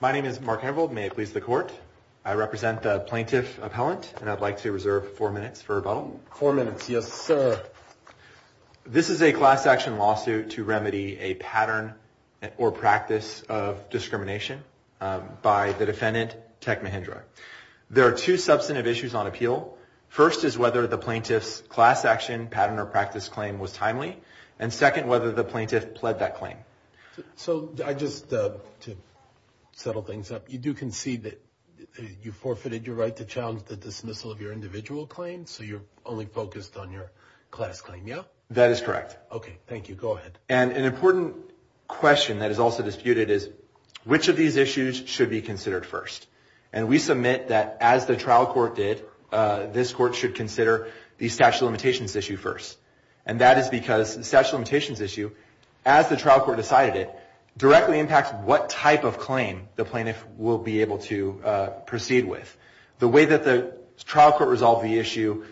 My name is Mark Envold, may it please the court. I represent the plaintiff appellant and I'd like to reserve four minutes for rebuttal. This is a class action lawsuit to remedy a pattern or practice of discrimination by the defendant, Tech Mahindra. There are two substantive issues on appeal. First is whether the plaintiff's class action pattern or practice claim was timely. And second, whether the plaintiff pled that claim. So I just, to settle things up, you do concede that you forfeited your right to challenge the dismissal of your individual claim. So you're only focused on your class claim, yeah? That is correct. Okay, thank you. Go ahead. And an important question that is also disputed is, which of these issues should be considered first? And we submit that, as the trial court did, this court should consider the statute of limitations issue first. And that is because the statute of limitations issue, as the trial court decided it, directly impacts what type of claim the plaintiff will be able to proceed with. The way that the trial court resolved the issue,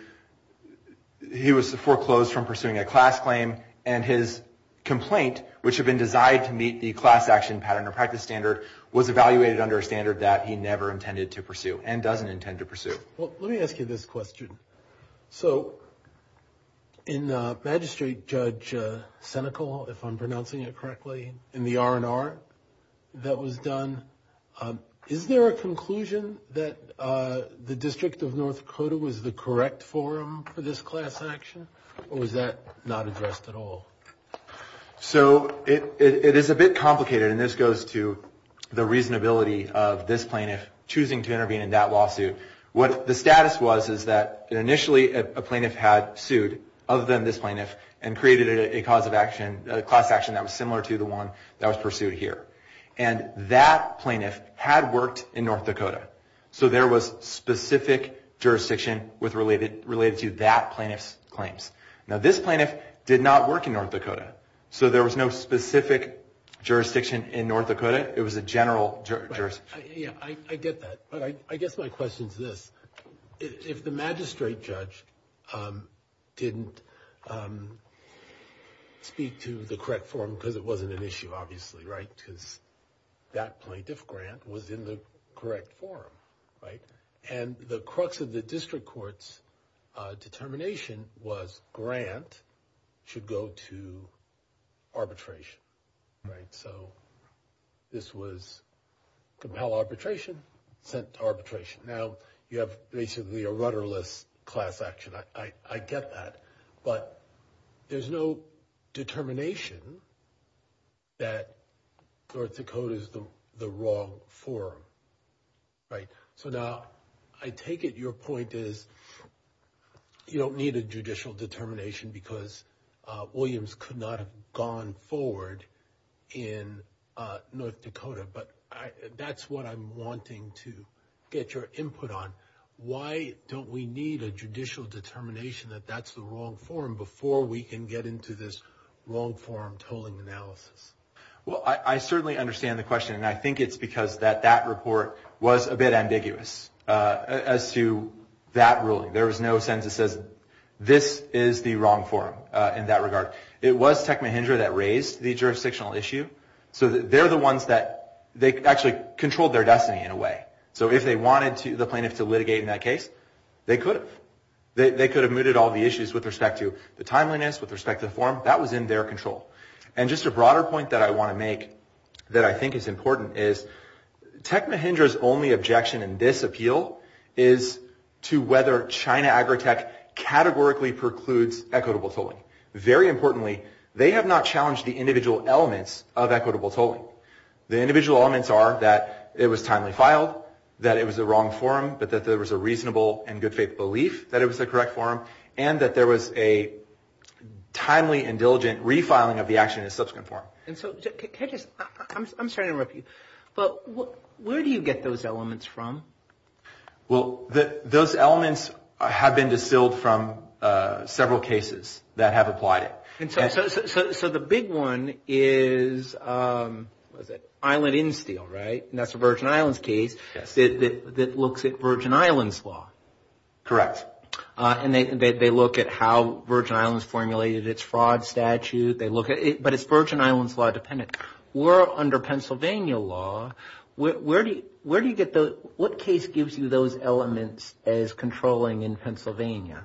he was foreclosed from pursuing a class claim, and his complaint, which had been desired to meet the class action pattern or practice standard, was evaluated under a standard that he never intended to pursue and doesn't intend to pursue. Well, let me ask you this question. So in Magistrate Judge Senecal, if I'm pronouncing it correctly, in the R&R that was done, is there a conclusion that the District of North Dakota was the correct forum for this class action? Or was that not addressed at all? So it is a bit complicated, and this goes to the reasonability of this plaintiff choosing to intervene in that lawsuit. What the status was is that initially a plaintiff had sued, other than this plaintiff, and created a cause of action, a class action that was similar to the one that was pursued here. And that plaintiff had worked in North Dakota, so there was specific jurisdiction related to that plaintiff's claims. Now, this plaintiff did not work in North Dakota, so there was no specific jurisdiction in North Dakota. It was a general jurisdiction. I get that, but I guess my question is this. If the magistrate judge didn't speak to the correct forum, because it wasn't an issue, obviously, right? Because that plaintiff, Grant, was in the correct forum, right? And the crux of the district court's determination was Grant should go to arbitration, right? So this was compel arbitration, sent to arbitration. Now you have basically a rudderless class action. I get that, but there's no determination that North Dakota is the wrong forum, right? So now I take it your point is you don't need a judicial determination because Williams could not have gone forward in North Dakota. But that's what I'm wanting to get your input on. Why don't we need a judicial determination that that's the wrong forum before we can get into this wrong forum tolling analysis? Well, I certainly understand the question, and I think it's because that that report was a bit ambiguous as to that ruling. There was no sentence that said this is the wrong forum in that regard. It was Tech Mahindra that raised the jurisdictional issue. So they're the ones that they actually controlled their destiny in a way. So if they wanted the plaintiff to litigate in that case, they could have. They could have mooted all the issues with respect to the timeliness, with respect to the forum. That was in their control. And just a broader point that I want to make that I think is important is Tech Mahindra's only objection in this appeal is to whether China Agritech categorically precludes equitable tolling. Very importantly, they have not challenged the individual elements of equitable tolling. The individual elements are that it was timely filed, that it was the wrong forum, but that there was a reasonable and good faith belief that it was the correct forum, and that there was a timely and diligent refiling of the action in the subsequent forum. I'm sorry to interrupt you, but where do you get those elements from? Well, those elements have been dispelled from several cases that have applied it. So the big one is Island In Steel, right? And that's a Virgin Islands case that looks at Virgin Islands law. Correct. And they look at how Virgin Islands formulated its fraud statute. But it's Virgin Islands law dependent. We're under Pennsylvania law. Where do you get those? What case gives you those elements as controlling in Pennsylvania?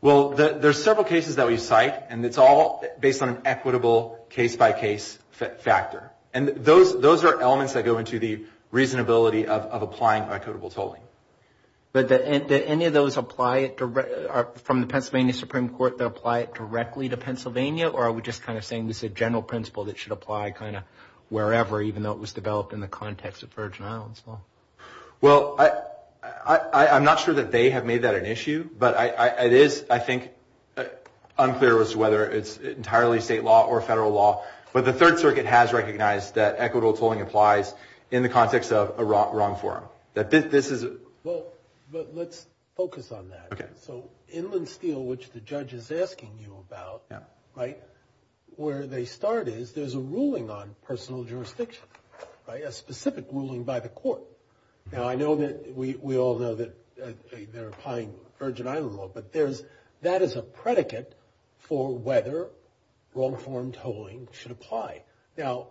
Well, there's several cases that we cite, and it's all based on an equitable case-by-case factor. And those are elements that go into the reasonability of applying equitable tolling. Did any of those apply from the Pennsylvania Supreme Court to apply it directly to Pennsylvania, or are we just kind of saying this is a general principle that should apply kind of wherever, even though it was developed in the context of Virgin Islands law? Well, I'm not sure that they have made that an issue, but it is, I think, unclear as to whether it's entirely state law or federal law. But the Third Circuit has recognized that equitable tolling applies in the context of a wrong forum. Well, let's focus on that. So Inland Steel, which the judge is asking you about, where they start is there's a ruling on personal jurisdiction, a specific ruling by the court. Now, I know that we all know that they're applying Virgin Islands law, but that is a predicate for whether wrong-form tolling should apply. Now,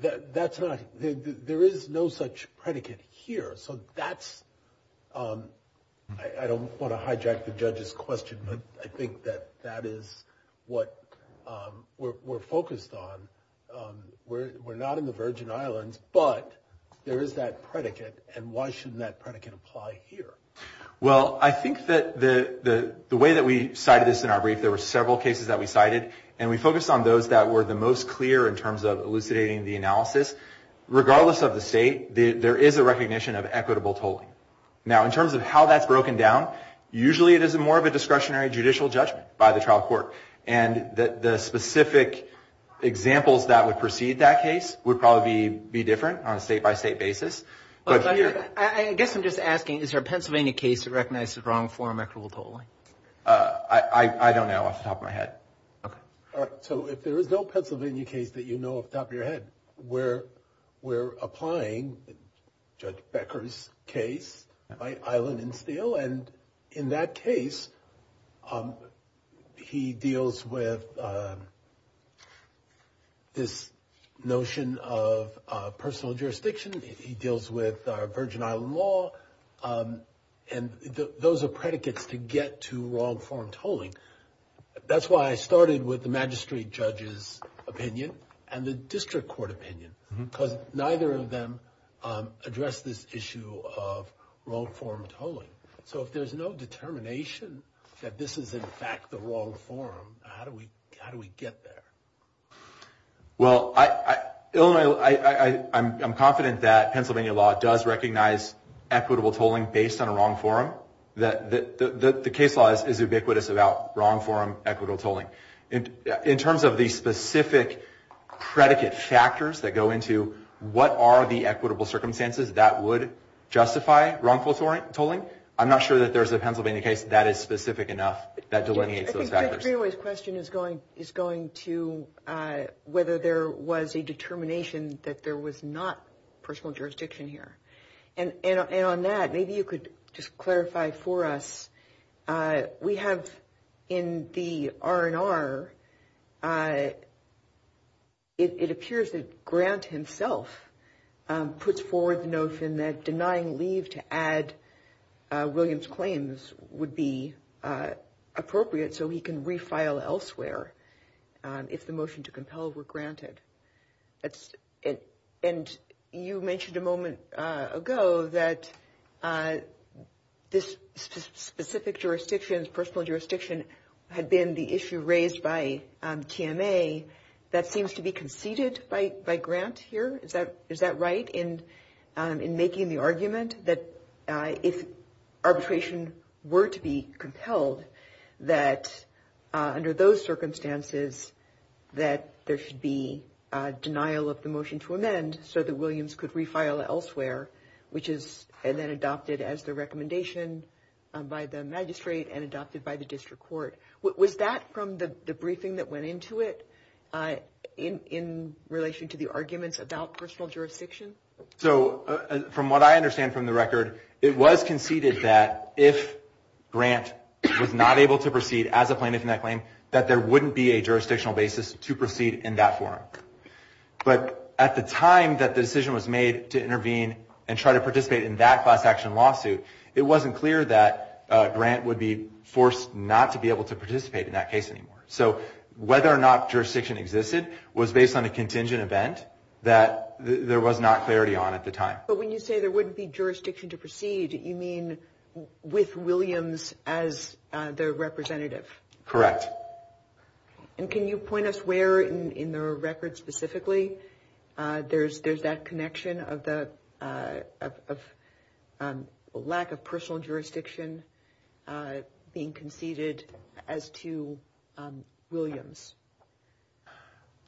there is no such predicate here, so that's – I don't want to hijack the judge's question, but I think that that is what we're focused on. We're not in the Virgin Islands, but there is that predicate, and why shouldn't that predicate apply here? Well, I think that the way that we cited this in our brief, there were several cases that we cited, and we focused on those that were the most clear in terms of elucidating the analysis. Regardless of the state, there is a recognition of equitable tolling. Now, in terms of how that's broken down, usually it is more of a discretionary judicial judgment by the trial court, and the specific examples that would precede that case would probably be different on a state-by-state basis. I guess I'm just asking, is there a Pennsylvania case that recognizes wrong-form equitable tolling? I don't know off the top of my head. So if there is no Pennsylvania case that you know off the top of your head, we're applying Judge Becker's case, Island and Steele, and in that case, he deals with this notion of personal jurisdiction, he deals with Virgin Island law, and those are predicates to get to wrong-form tolling. That's why I started with the magistrate judge's opinion and the district court opinion, because neither of them addressed this issue of wrong-form tolling. So if there's no determination that this is, in fact, the wrong form, how do we get there? Well, Illinois, I'm confident that Pennsylvania law does recognize equitable tolling based on a wrong-form. The case law is ubiquitous about wrong-form equitable tolling. In terms of the specific predicate factors that go into what are the equitable circumstances that would justify wrong-form tolling, I'm not sure that there's a Pennsylvania case that is specific enough that delineates those factors. My question is going to whether there was a determination that there was not personal jurisdiction here. And on that, maybe you could just clarify for us. We have in the R&R, it appears that Grant himself puts forward the notion that denying leave to add Williams' claims would be appropriate so he can refile elsewhere if the motion to compel were granted. And you mentioned a moment ago that this specific jurisdiction, personal jurisdiction, had been the issue raised by TMA that seems to be conceded by Grant here. Is that right in making the argument that if arbitration were to be compelled, that under those circumstances that there should be denial of the motion to amend so that Williams could refile elsewhere, which is then adopted as the recommendation by the magistrate and adopted by the district court? Was that from the briefing that went into it in relation to the argument about personal jurisdiction? So from what I understand from the record, it was conceded that if Grant was not able to proceed as a plaintiff in that claim, that there wouldn't be a jurisdictional basis to proceed in that forum. But at the time that the decision was made to intervene and try to participate in that class action lawsuit, it wasn't clear that Grant would be forced not to be able to participate in that case anymore. So whether or not jurisdiction existed was based on a contingent event that there was not clarity on at the time. But when you say there wouldn't be jurisdiction to proceed, you mean with Williams as the representative? Correct. And can you point us where in the record specifically there's that connection of the lack of personal jurisdiction being conceded as to Williams?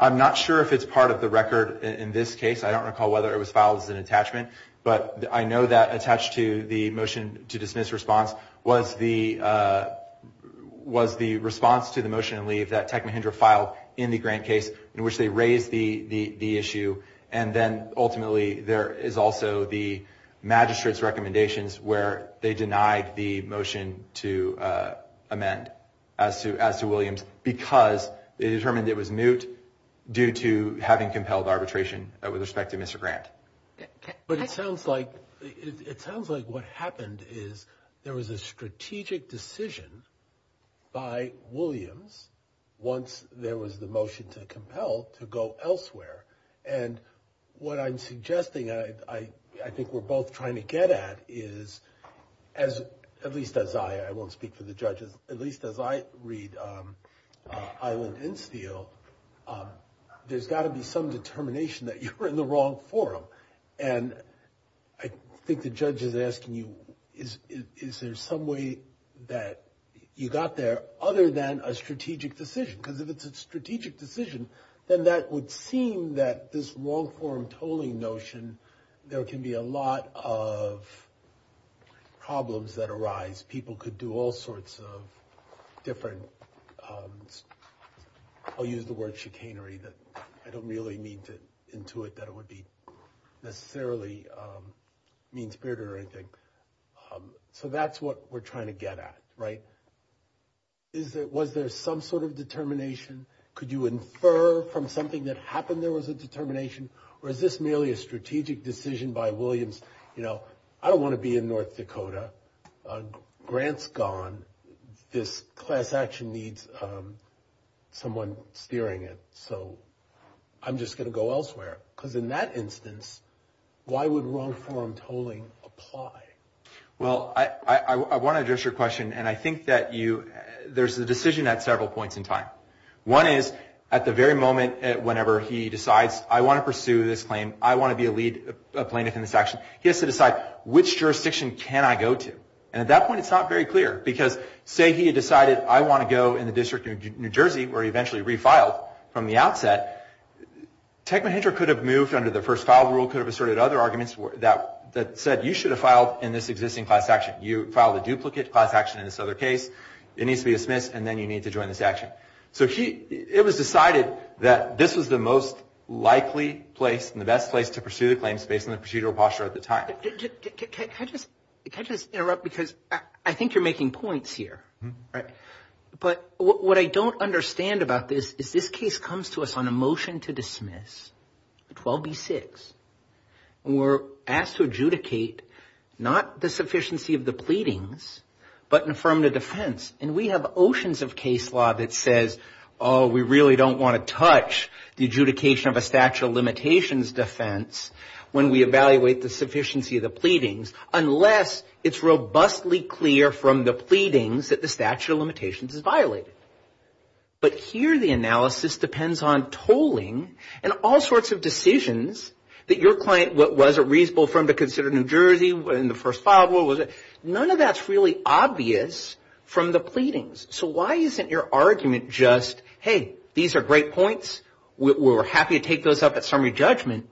I'm not sure if it's part of the record in this case. I don't recall whether it was filed as an attachment, but I know that attached to the motion to dismiss response was the response to the motion in leave that Tech Mahindra filed in the Grant case in which they raised the issue. And then ultimately there is also the magistrate's recommendations where they denied the motion to amend as to Williams because they determined it was moot due to having compelled arbitration with respect to Mr. Grant. But it sounds like what happened is there was a strategic decision by Williams once there was the motion to compel to go elsewhere. And what I'm suggesting I think we're both trying to get at is, at least as I, I won't speak for the judges, but at least as I read Island Inspeel, there's got to be some determination that you're in the wrong forum. And I think the judge is asking you, is there some way that you got there other than a strategic decision? Because if it's a strategic decision, then that would seem that this wrong forum tolling notion, there can be a lot of problems that arise. People could do all sorts of different, I'll use the word chicanery. I don't really mean into it that would be necessarily mean-spirited or anything. So that's what we're trying to get at, right? Was there some sort of determination? Could you infer from something that happened there was a determination? Or is this merely a strategic decision by Williams? I don't want to be in North Dakota. Grant's gone. This class action needs someone steering it. So I'm just going to go elsewhere. Because in that instance, why would wrong forum tolling apply? Well, I want to address your question, and I think that you, there's a decision at several points in time. One is, at the very moment whenever he decides, I want to pursue this claim, I want to be a plaintiff in this action, he has to decide, which jurisdiction can I go to? And at that point, it's not very clear. Because say he had decided, I want to go in the District of New Jersey, where he eventually refiled from the outset, Techmahinder could have moved under the first file rule, could have asserted other arguments that said, you should have filed in this existing class action. You filed a duplicate class action in this other case. It needs to be dismissed, and then you need to join this action. So it was decided that this was the most likely place and the best place to pursue the claims based on the procedural posture at the time. Can I just interrupt? Because I think you're making points here. But what I don't understand about this is this case comes to us on a motion to dismiss, 12B6. And we're asked to adjudicate not the sufficiency of the pleadings, but an affirmative defense. And we have oceans of case law that says, oh, we really don't want to touch the adjudication of a statute of limitations defense when we evaluate the sufficiency of the pleadings, unless it's robustly clear from the pleadings that the statute of limitations is violated. But here the analysis depends on tolling and all sorts of decisions that your client, was it reasonable for him to consider New Jersey in the first file rule? None of that's really obvious from the pleadings. So why isn't your argument just, hey, these are great points. We're happy to take those up at summary judgment.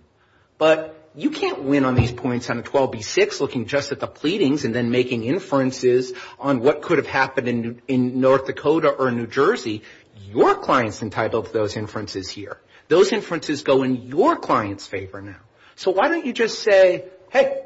But you can't win on these points on a 12B6 looking just at the pleadings and then making inferences on what could have happened in North Dakota or New Jersey. Your client's entitled to those inferences here. Those inferences go in your client's favor now. So why don't you just say, hey,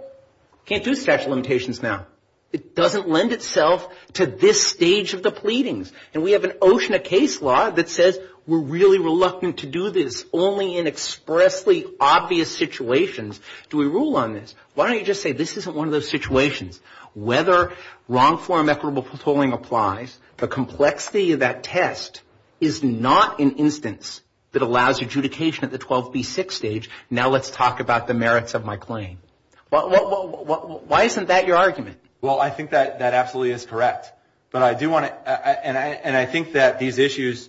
can't do statute of limitations now. It doesn't lend itself to this stage of the pleadings. And we have an ocean of case law that says we're really reluctant to do this, only in expressly obvious situations do we rule on this. Why don't you just say this isn't one of those situations. Whether wrongful or inequitable tolling applies, the complexity of that test is not an instance that allows adjudication at the 12B6 stage. Now let's talk about the merits of my claim. Why isn't that your argument? Well, I think that absolutely is correct. And I think that these issues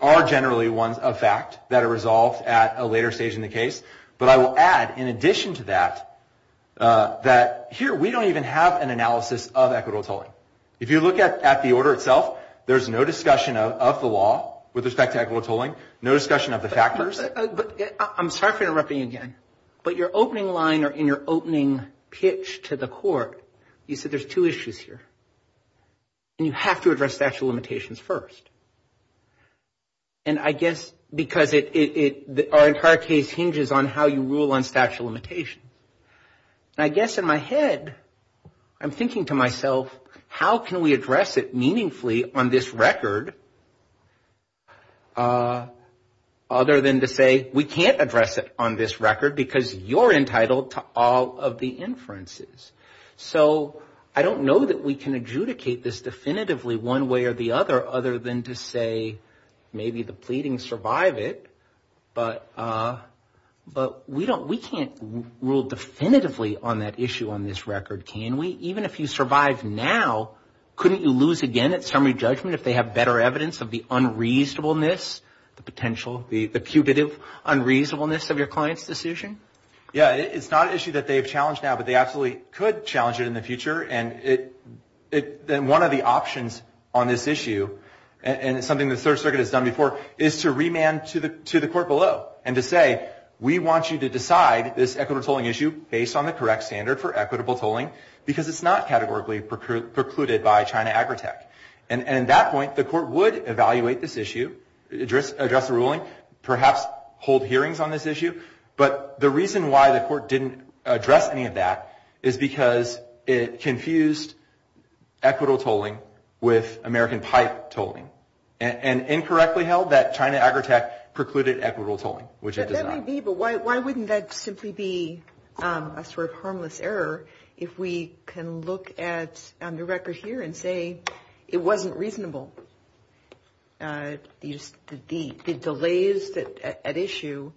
are generally a fact that are resolved at a later stage in the case. But I will add, in addition to that, that here we don't even have an analysis of equitable tolling. If you look at the order itself, there's no discussion of the law with respect to equitable tolling, no discussion of the factors. I'm sorry for interrupting again. But your opening line or in your opening pitch to the court, you said there's two issues here. And you have to address statute of limitations first. And I guess because our entire case hinges on how you rule on statute of limitations. And I guess in my head, I'm thinking to myself, how can we address it meaningfully on this record other than to say, we can't address it on this record because you're entitled to all of the inferences. So I don't know that we can adjudicate this definitively one way or the other other than to say maybe the pleadings survive it. But we can't rule definitively on that issue on this record, can we? Even if you survive now, couldn't you lose again at summary judgment if they have better evidence of the unreasonableness, the potential, the punitive unreasonableness of your client's decision? Yeah, it's not an issue that they've challenged now, but they absolutely could challenge it in the future. And one of the options on this issue, and it's something the Third Circuit has done before, is to remand to the court below and to say, we want you to decide this equitable tolling issue based on the correct standard for equitable tolling because it's not categorically precluded by China Agritech. And at that point, the court would evaluate this issue, address the ruling, perhaps hold hearings on this issue. But the reason why the court didn't address any of that is because it confused equitable tolling with American pipe tolling and incorrectly held that China Agritech precluded equitable tolling, which it did not. But why wouldn't that simply be a sort of harmless error if we can look at the record here and say it wasn't reasonable? The delays at issue,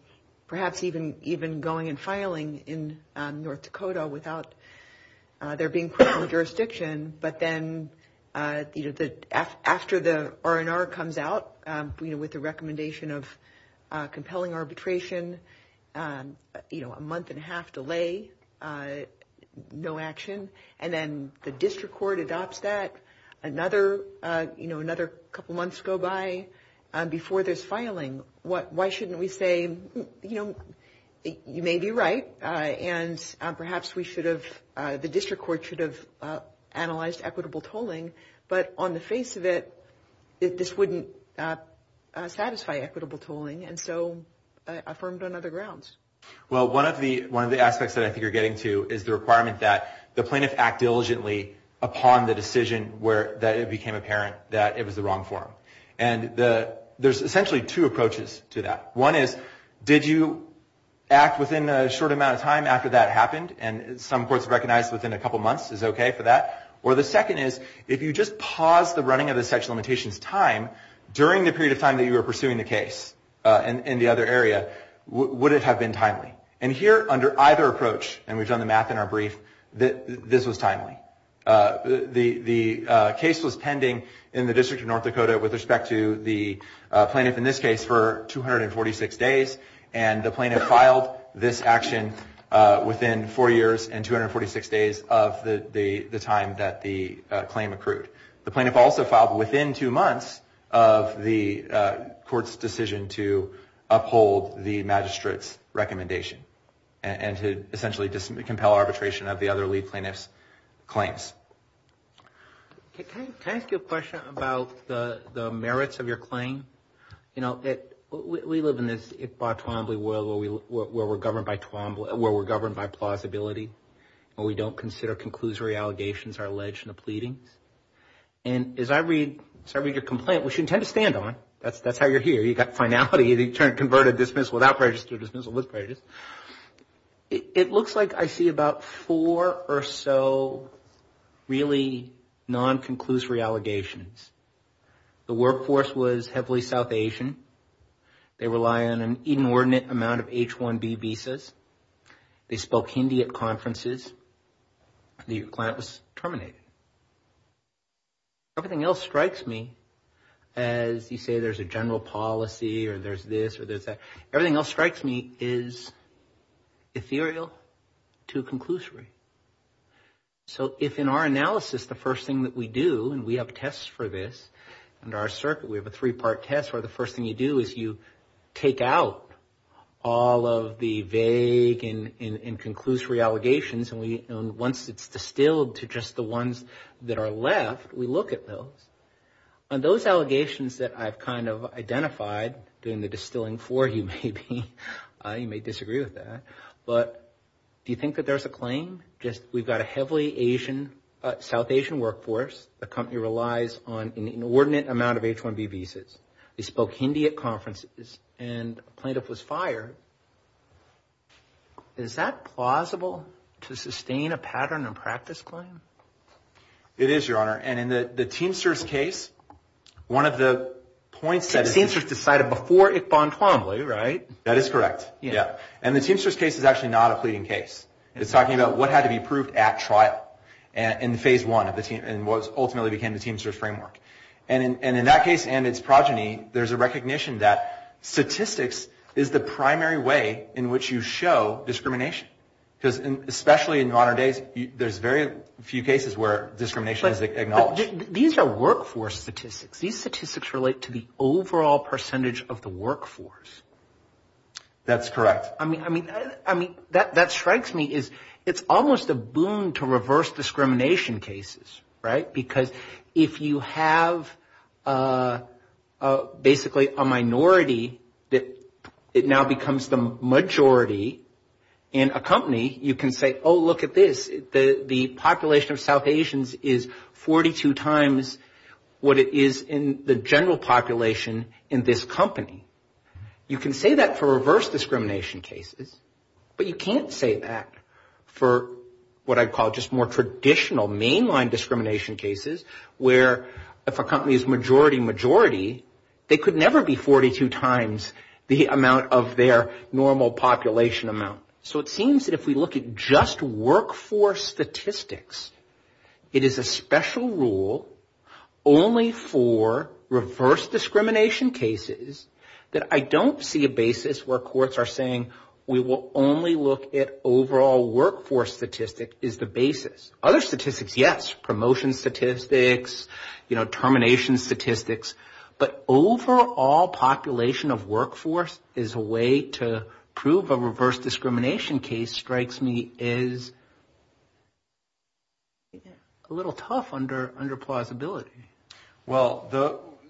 perhaps even going and filing in North Dakota without there being criminal jurisdiction, but then after the R&R comes out with the recommendation of compelling arbitration, a month and a half delay, no action. And then the district court adopts that, another couple months go by before there's filing. Why shouldn't we say, you may be right, and perhaps the district court should have analyzed equitable tolling, but on the face of it, this wouldn't satisfy equitable tolling, and so affirmed on other grounds. Well, one of the aspects that I think you're getting to is the requirement that the plaintiff act diligently upon the decision that it became apparent that it was the wrong form. And there's essentially two approaches to that. One is, did you act within a short amount of time after that happened? And some courts have recognized within a couple months is okay for that. Or the second is, if you just paused the running of the sexual limitations time during the period of time that you were pursuing the case in the other area, would it have been timely? And here, under either approach, and we've done the math in our brief, this was timely. The case was pending in the District of North Dakota with respect to the plaintiff in this case for 246 days, and the plaintiff filed this action within four years and 246 days of the time that the claim accrued. The plaintiff also filed within two months of the court's decision to uphold the magistrate's recommendation and to essentially compel arbitration of the other lead plaintiff's claims. Can I ask you a question about the merits of your claim? You know, we live in this Bar Twombly world where we're governed by plausibility and we don't consider conclusory allegations are alleged in a pleading. And as I read your complaint, which you intend to stand on, that's how you're here, you've got finality and you're trying to convert a dismissal without prejudice to a dismissal with prejudice. It looks like I see about four or so really non-conclusory allegations. The workforce was heavily South Asian. They rely on an inordinate amount of H-1B visas. They spoke Hindi at conferences. Your client was terminated. Everything else strikes me as you say there's a general policy or there's this or there's that. Everything else strikes me is ethereal to conclusory. So if in our analysis the first thing that we do, and we have tests for this, we have a three-part test where the first thing you do is you take out all of the vague and conclusory allegations and once it's distilled to just the ones that are left, we look at those. And those allegations that I've kind of identified during the distilling for you maybe, you may disagree with that, but do you think that there's a claim? We've got a heavily South Asian workforce. The company relies on an inordinate amount of H-1B visas. They spoke Hindi at conferences and a plaintiff was fired. Is that plausible to sustain a pattern of practice claim? It is, Your Honor. And in the Teenster's case, one of the points that The Teenster's case decided before it found Twombly, right? That is correct. And the Teenster's case is actually not a pleading case. It's talking about what had to be proved at trial in Phase 1 and what ultimately became the Teenster's framework. And in that case and its progeny, there's a recognition that statistics is the primary way in which you show discrimination. Because especially in modern days, there's very few cases where discrimination is acknowledged. But these are workforce statistics. These statistics relate to the overall percentage of the workforce. That's correct. I mean, that strikes me. It's almost a boon to reverse discrimination cases, right? Because if you have basically a minority, it now becomes the majority in a company. You can say, oh, look at this. The population of South Asians is 42 times what it is in the general population in this company. You can say that for reverse discrimination cases. But you can't say that for what I call just more traditional mainline discrimination cases where if a company is majority-majority, they could never be 42 times the amount of their normal population amount. So it seems that if we look at just workforce statistics, it is a special rule only for reverse discrimination cases that I don't see a basis where courts are saying we will only look at overall workforce statistics as the basis. Other statistics, yes, promotion statistics, you know, termination statistics. But overall population of workforce as a way to prove a reverse discrimination case strikes me as a little tough under plausibility. Well,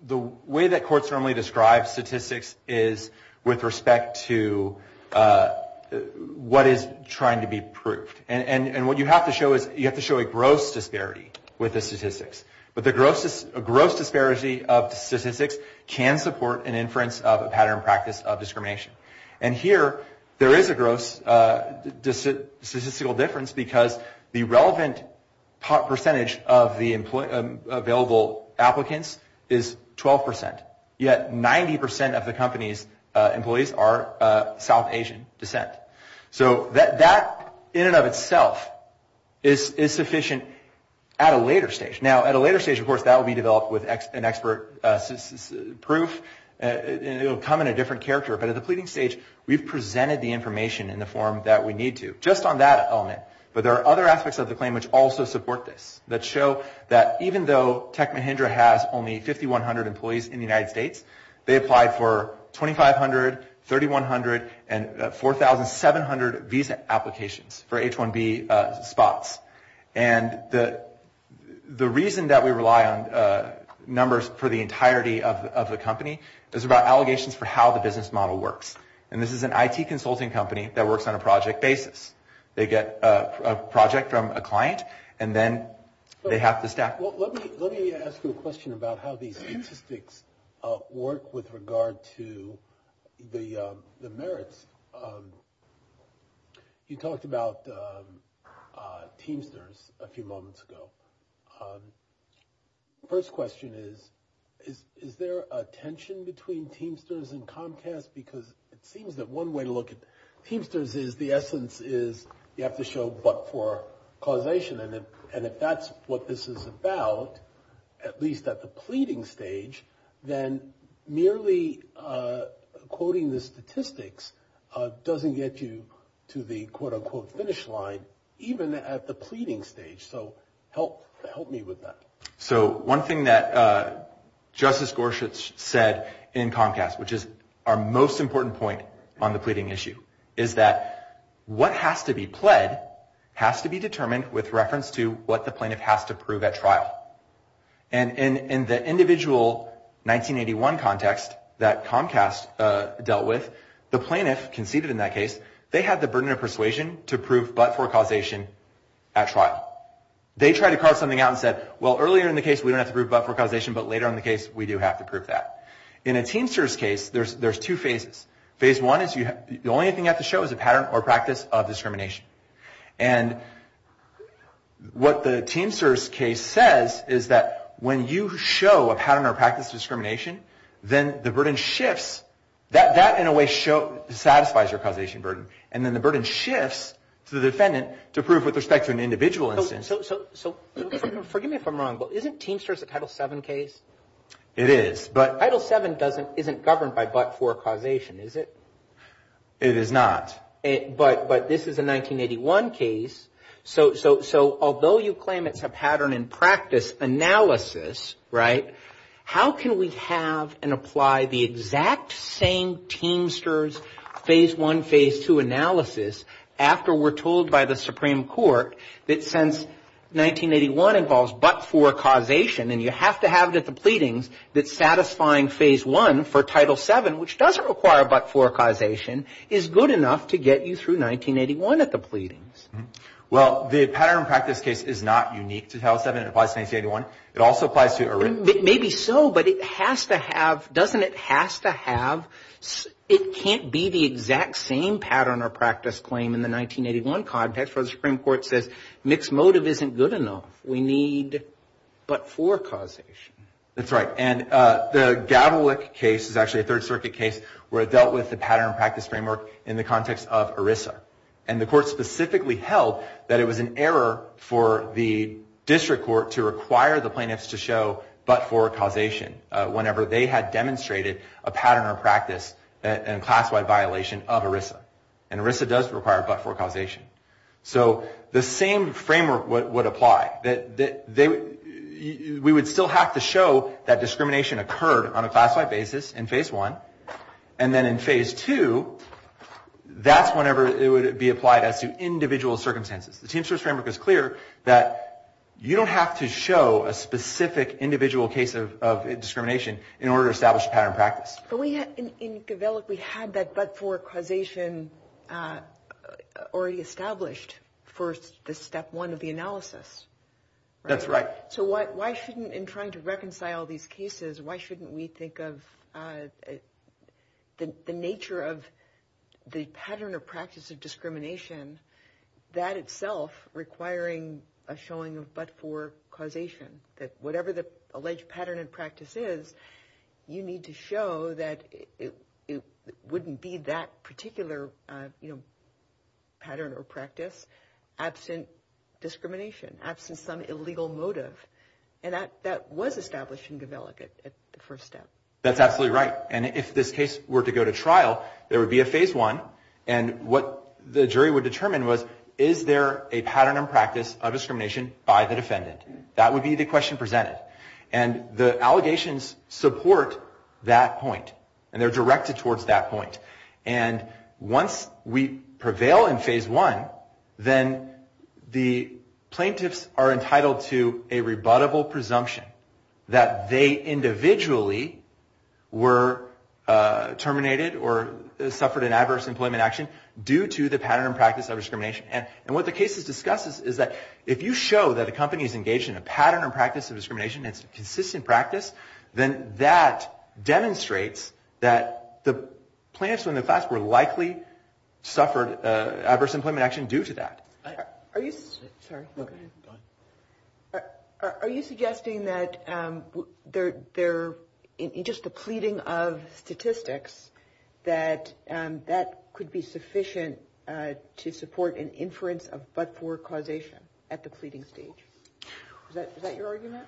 the way that courts normally describe statistics is with respect to what is trying to be proved. And what you have to show is you have to show a gross disparity with the statistics. But a gross disparity of statistics can support an inference of a pattern practice of discrimination. And here there is a gross statistical difference because the relevant percentage of the available applicants is 12%. Yet 90% of the company's employees are South Asian descent. So that in and of itself is sufficient at a later stage. Now, at a later stage, of course, that will be developed with an expert proof and it will come in a different character. But at the pleading stage, we've presented the information in the form that we need to, just on that element. But there are other aspects of the claim which also support this, that show that even though Tech Mahindra has only 5,100 employees in the United States, they applied for 2,500, 3,100, and 4,700 visa applications for H-1B spots. And the reason that we rely on numbers for the entirety of the company is about allegations for how the business model works. And this is an IT consulting company that works on a project basis. They get a project from a client and then they have to staff. Let me ask you a question about how these statistics work with regard to the merits. You talked about Teamsters a few moments ago. First question is, is there a tension between Teamsters and Comcast? Because it seems that one way to look at Teamsters is the essence is you have to show but for causation. And if that's what this is about, at least at the pleading stage, then merely quoting the statistics doesn't get you to the quote-unquote finish line, even at the pleading stage. So help me with that. So one thing that Justice Gorsuch said in Comcast, which is our most important point on the pleading issue, is that what has to be pled has to be determined with reference to what the plaintiff has to prove at trial. And in the individual 1981 context that Comcast dealt with, the plaintiff conceded in that case, they had the burden of persuasion to prove but for causation at trial. They tried to carve something out and said, well, earlier in the case we don't have to prove but for causation, but later in the case we do have to prove that. In a Teamsters case, there's two phases. Phase one is the only thing you have to show is a pattern or practice of discrimination. And what the Teamsters case says is that when you show a pattern or practice of discrimination, then the burden shifts. That in a way satisfies your causation burden. And then the burden shifts to the defendant to prove with respect to an individual instance. So forgive me if I'm wrong, but isn't Teamsters a Title VII case? It is. But Title VII isn't governed by but for causation, is it? It is not. But this is a 1981 case. So although you claim it's a pattern and practice analysis, right, how can we have and apply the exact same Teamsters phase one, phase two analysis after we're told by the Supreme Court that since 1981 involves but for causation, and you have to have it at the pleadings, that satisfying phase one for Title VII, which doesn't require but for causation, is good enough to get you through 1981 at the pleadings? Well, the pattern and practice case is not unique to Title VII. It applies to 1981. It also applies to... Maybe so, but it has to have... doesn't it have to have... It can't be the exact same pattern or practice claim in the 1981 context where the Supreme Court says mixed motive isn't good enough. We need but for causation. That's right. And the Gavelich case is actually a Third Circuit case where it dealt with the pattern and practice framework in the context of ERISA. And the court specifically held that it was an error for the district court to require the plaintiffs to show but for causation whenever they had demonstrated a pattern or practice and class-wide violation of ERISA. And ERISA does require but for causation. So the same framework would apply. We would still have to show that discrimination occurred on a class-wide basis in phase one. And then in phase two, that's whenever it would be applied as to individual circumstances. The same source framework is clear that you don't have to show a specific individual case of discrimination in order to establish pattern practice. But we had in Gavelich, we had that but for causation already established for the step one of the analysis. That's right. So why shouldn't, in trying to reconcile these cases, why shouldn't we think of the nature of the pattern or practice of discrimination, that itself requiring a showing of but for causation? That whatever the alleged pattern and practice is, you need to show that it wouldn't be that particular pattern or practice absent discrimination, absent some illegal motive. And that was established in Gavelich at the first step. That's absolutely right. And if this case were to go to trial, there would be a phase one, and what the jury would determine was, is there a pattern and practice of discrimination by the defendant? That would be the question presented. And the allegations support that point, and they're directed towards that point. And once we prevail in phase one, then the plaintiffs are entitled to a rebuttable presumption that they individually were terminated or suffered an adverse employment action due to the pattern and practice of discrimination. And what the case has discussed is that if you show that a company is engaged in a pattern or practice of discrimination, it's a consistent practice, then that demonstrates that the plaintiffs from the past were likely suffered adverse employment action due to that. Are you suggesting that just the pleading of statistics, that that could be sufficient to support an inference of but-for causation at the pleading stage? Is that your argument?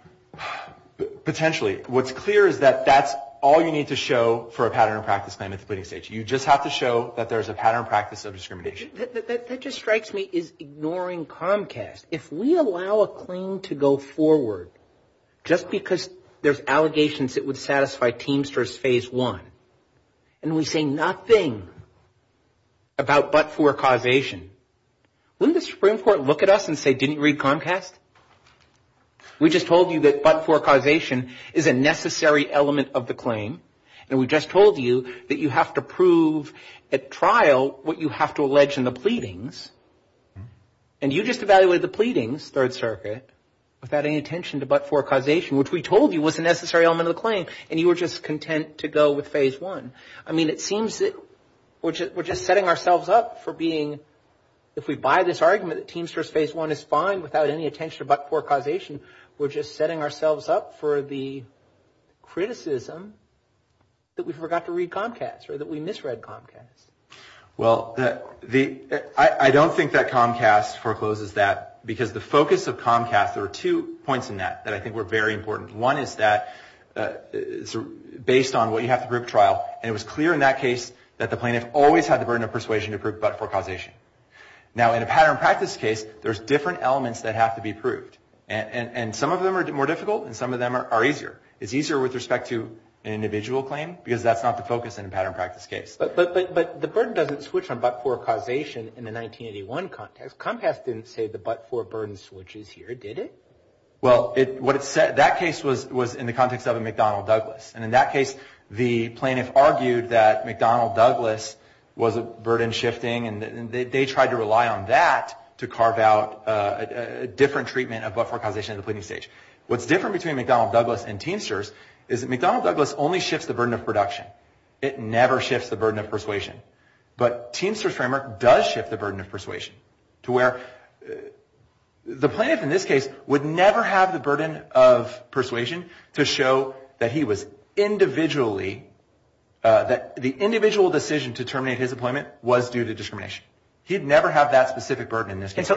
Potentially. What's clear is that that's all you need to show for a pattern or practice claim at the pleading stage. You just have to show that there's a pattern or practice of discrimination. That just strikes me as ignoring Comcast. If we allow a claim to go forward just because there's allegations that would satisfy Teamster's phase one, and we say nothing about but-for causation, wouldn't the Supreme Court look at us and say, didn't you read Comcast? We just told you that but-for causation is a necessary element of the claim, and we just told you that you have to prove at trial what you have to allege in the pleadings, and you just evaluated the pleadings, Third Circuit, without any attention to but-for causation, which we told you was a necessary element of the claim, and you were just content to go with phase one. I mean, it seems that we're just setting ourselves up for being, if we buy this argument that Teamster's phase one is fine without any attention to but-for causation, we're just setting ourselves up for the criticism that we forgot to read Comcast or that we misread Comcast. Well, I don't think that Comcast forecloses that because the focus of Comcast, there are two points in that that I think were very important. One is that based on what you have to prove at trial, and it was clear in that case that the plaintiff always had the burden of persuasion to prove but-for causation. Now, in a pattern or practice case, there's different elements that have to be proved, and some of them are more difficult and some of them are easier. It's easier with respect to an individual claim because that's not the focus in a pattern or practice case. But the burden doesn't switch on but-for causation in the 1981 context. Comcast didn't say the but-for burden switches here, did it? Well, what it said, that case was in the context of a McDonnell Douglas, and in that case, the plaintiff argued that McDonnell Douglas was a burden shifting, and they tried to rely on that to carve out a different treatment of but-for causation in the pleading stage. What's different between McDonnell Douglas and Teamsters is that McDonnell Douglas only shifts the burden of production. It never shifts the burden of persuasion. But Teamsters framework does shift the burden of persuasion to where- the plaintiff in this case would never have the burden of persuasion to show that he was individually- He'd never have that specific burden in this case.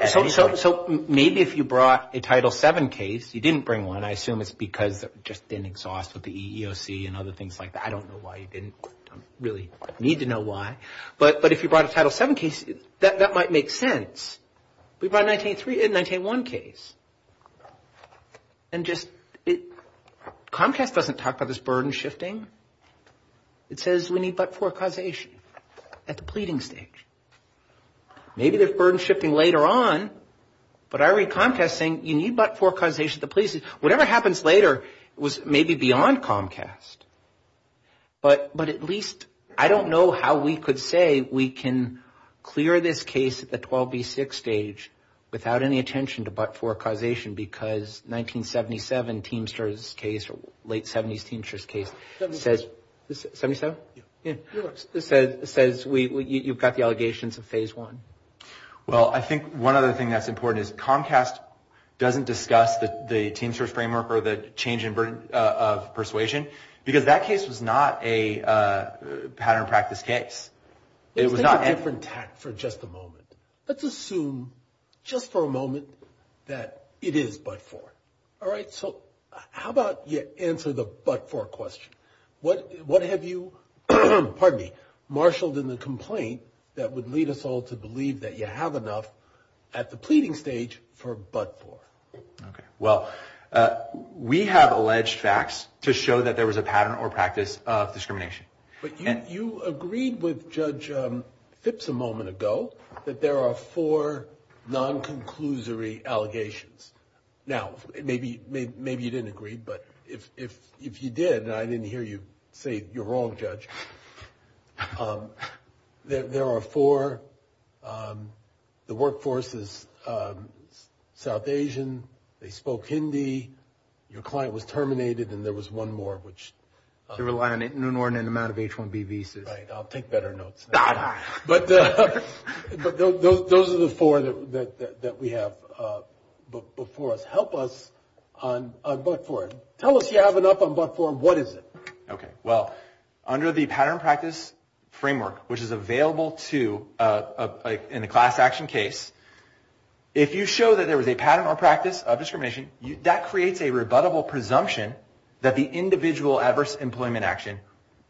So maybe if you brought a Title VII case, you didn't bring one, I assume it's because you just didn't exhaust the EEOC and other things like that. I don't know why you didn't. I don't really need to know why. But if you brought a Title VII case, that might make sense. We brought a 1981 case, and just-Comcast doesn't talk about this burden shifting. It says we need but-for causation at the pleading stage. Maybe there's burden shifting later on, but I read Comcast saying you need but-for causation. Whatever happens later was maybe beyond Comcast. But at least I don't know how we could say we can clear this case at the 12B6 stage without any attention to but-for causation, because 1977 Teamsters case, late 70s Teamsters case- 77. 77? Yeah. It says you've got the allegations of Phase I. Well, I think one other thing that's important is Comcast doesn't discuss the Teamsters framework or the change in burden of persuasion, because that case was not a pattern practice case. Let's take a different tact for just a moment. Let's assume just for a moment that it is but-for. All right? So how about you answer the but-for question? What have you marshaled in the complaint that would lead us all to believe that you have enough at the pleading stage for but-for? Okay. Well, we have alleged facts to show that there was a pattern or practice of discrimination. But you agreed with Judge Phipps a moment ago that there are four non-conclusory allegations. Now, maybe you didn't agree, but if you did, and I didn't hear you say you're wrong, Judge, there are four. The workforce is South Asian. They spoke Hindi. Your client was terminated, and there was one more, which- I have to rely on an inordinate amount of H-1B visas. Right. I'll take better notes. But those are the four that we have before us. Help us on but-for. Tell us you have enough on but-for, and what is it? Okay. Well, under the pattern practice framework, which is available in a class action case, if you show that there was a pattern or practice of discrimination, that creates a rebuttable presumption that the individual adverse employment action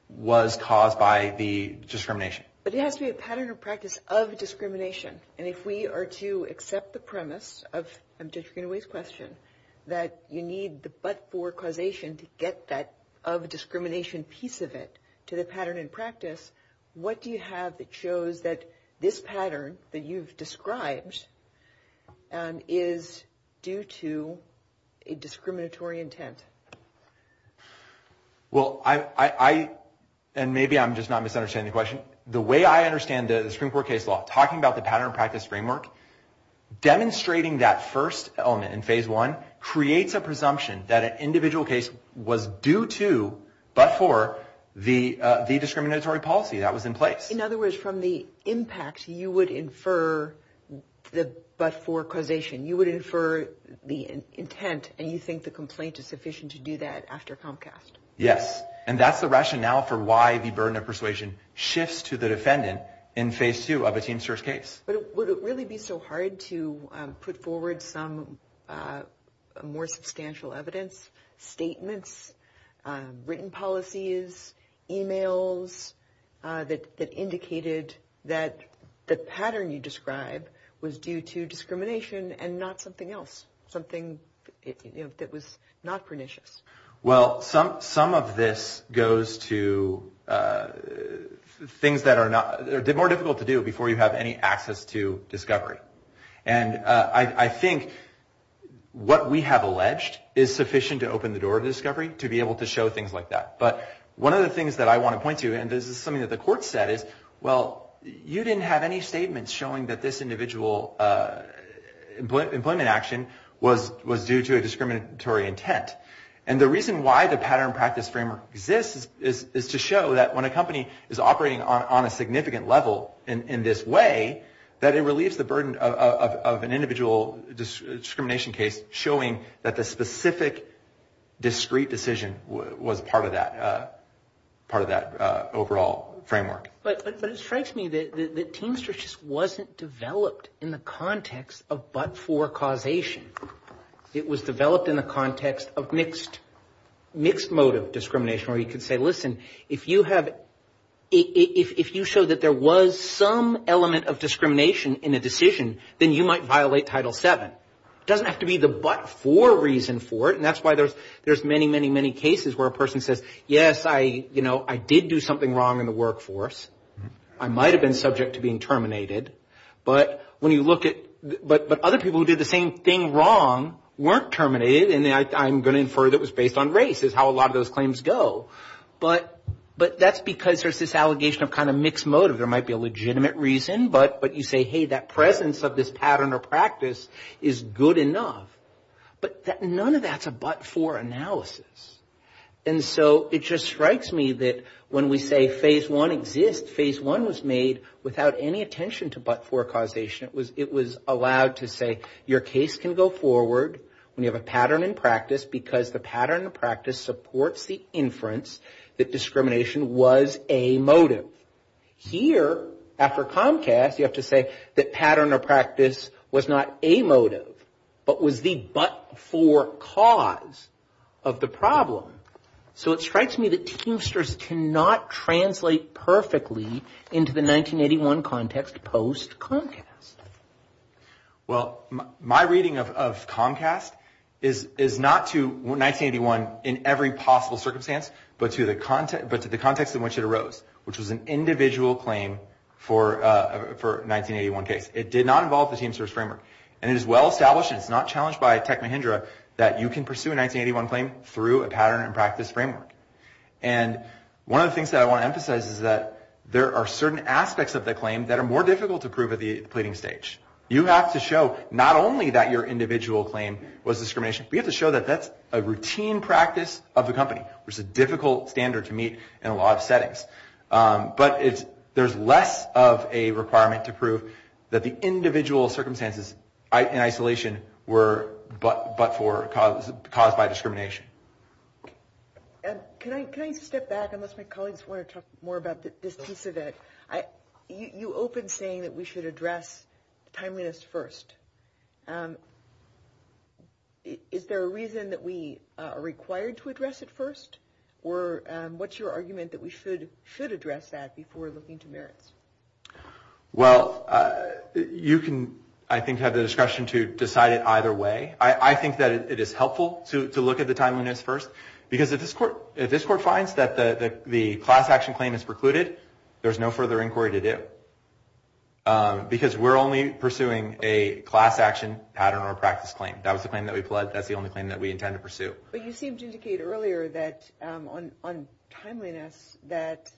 was caused by the discrimination. But it has to be a pattern or practice of discrimination. And if we are to accept the premise of Judge Greenaway's question, that you need the but-for causation to get that of discrimination piece of it to the pattern in practice, what do you have that shows that this pattern that you've described is due to a discriminatory intent? Well, I-and maybe I'm just not misunderstanding the question. The way I understand the Supreme Court case law, talking about the pattern practice framework, demonstrating that first element in phase one creates a presumption that an individual case was due to but-for the discriminatory policy that was in place. In other words, from the impact, you would infer the but-for causation. You would infer the intent, and you think the complaint is sufficient to do that after Comcast. Yes. And that's the rationale for why the burden of persuasion shifts to the defendant in phase two of a team search case. But would it really be so hard to put forward some more substantial evidence, statements, written policies, emails that indicated that the pattern you described was due to discrimination and not something else, something that was not pernicious? Well, some of this goes to things that are more difficult to do before you have any access to discovery. And I think what we have alleged is sufficient to open the door to discovery to be able to show things like that. But one of the things that I want to point to, and this is something that the court said, you didn't have any statements showing that this individual employment action was due to a discriminatory intent. And the reason why the pattern practice framework exists is to show that when a company is operating on a significant level in this way, that it relieves the burden of an individual discrimination case, showing that the specific discrete decision was part of that overall framework. But it strikes me that team search just wasn't developed in the context of but-for causation. It was developed in the context of mixed motive discrimination where you could say, listen, if you show that there was some element of discrimination in a decision, then you might violate Title VII. It doesn't have to be the but-for reason for it, and that's why there's many, many, many cases where a person says, yes, I did do something wrong in the workforce. I might have been subject to being terminated. But other people who did the same thing wrong weren't terminated, and I'm going to infer that it was based on race is how a lot of those claims go. But that's because there's this allegation of kind of mixed motive. So there might be a legitimate reason, but you say, hey, that presence of this pattern or practice is good enough. But none of that's a but-for analysis. And so it just strikes me that when we say Phase I exists, Phase I was made without any attention to but-for causation. It was allowed to say your case can go forward when you have a pattern in practice because the pattern in practice supports the inference that discrimination was a motive. Here, after Comcast, you have to say that pattern or practice was not a motive, but was the but-for cause of the problem. So it strikes me that Teamsters cannot translate perfectly into the 1981 context post-Comcast. Well, my reading of Comcast is not to 1981 in every possible circumstance, but to the context in which it arose, which was an individual claim for a 1981 case. It did not involve the Teamsters framework. And it is well-established, and it's not challenged by Tech Mahindra, that you can pursue a 1981 claim through a pattern and practice framework. And one of the things that I want to emphasize is that there are certain aspects of the claim that are more difficult to prove at the pleading stage. You have to show not only that your individual claim was discrimination, but you have to show that that's a routine practice of the company, which is a difficult standard to meet in a lot of settings. But there's less of a requirement to prove that the individual circumstances in isolation were but-for caused by discrimination. Can I step back, unless my colleagues want to talk more about this piece of it? You opened saying that we should address timeliness first. Is there a reason that we are required to address it first, or what's your argument that we should address that before looking to merits? Well, you can, I think, have the discretion to decide it either way. I think that it is helpful to look at the timeliness first, because if this court finds that the class action claim is precluded, there's no further inquiry to do, because we're only pursuing a class action pattern or practice claim. That was the claim that we pledged. That's the only claim that we intend to pursue. But you seemed to indicate earlier that on timeliness, that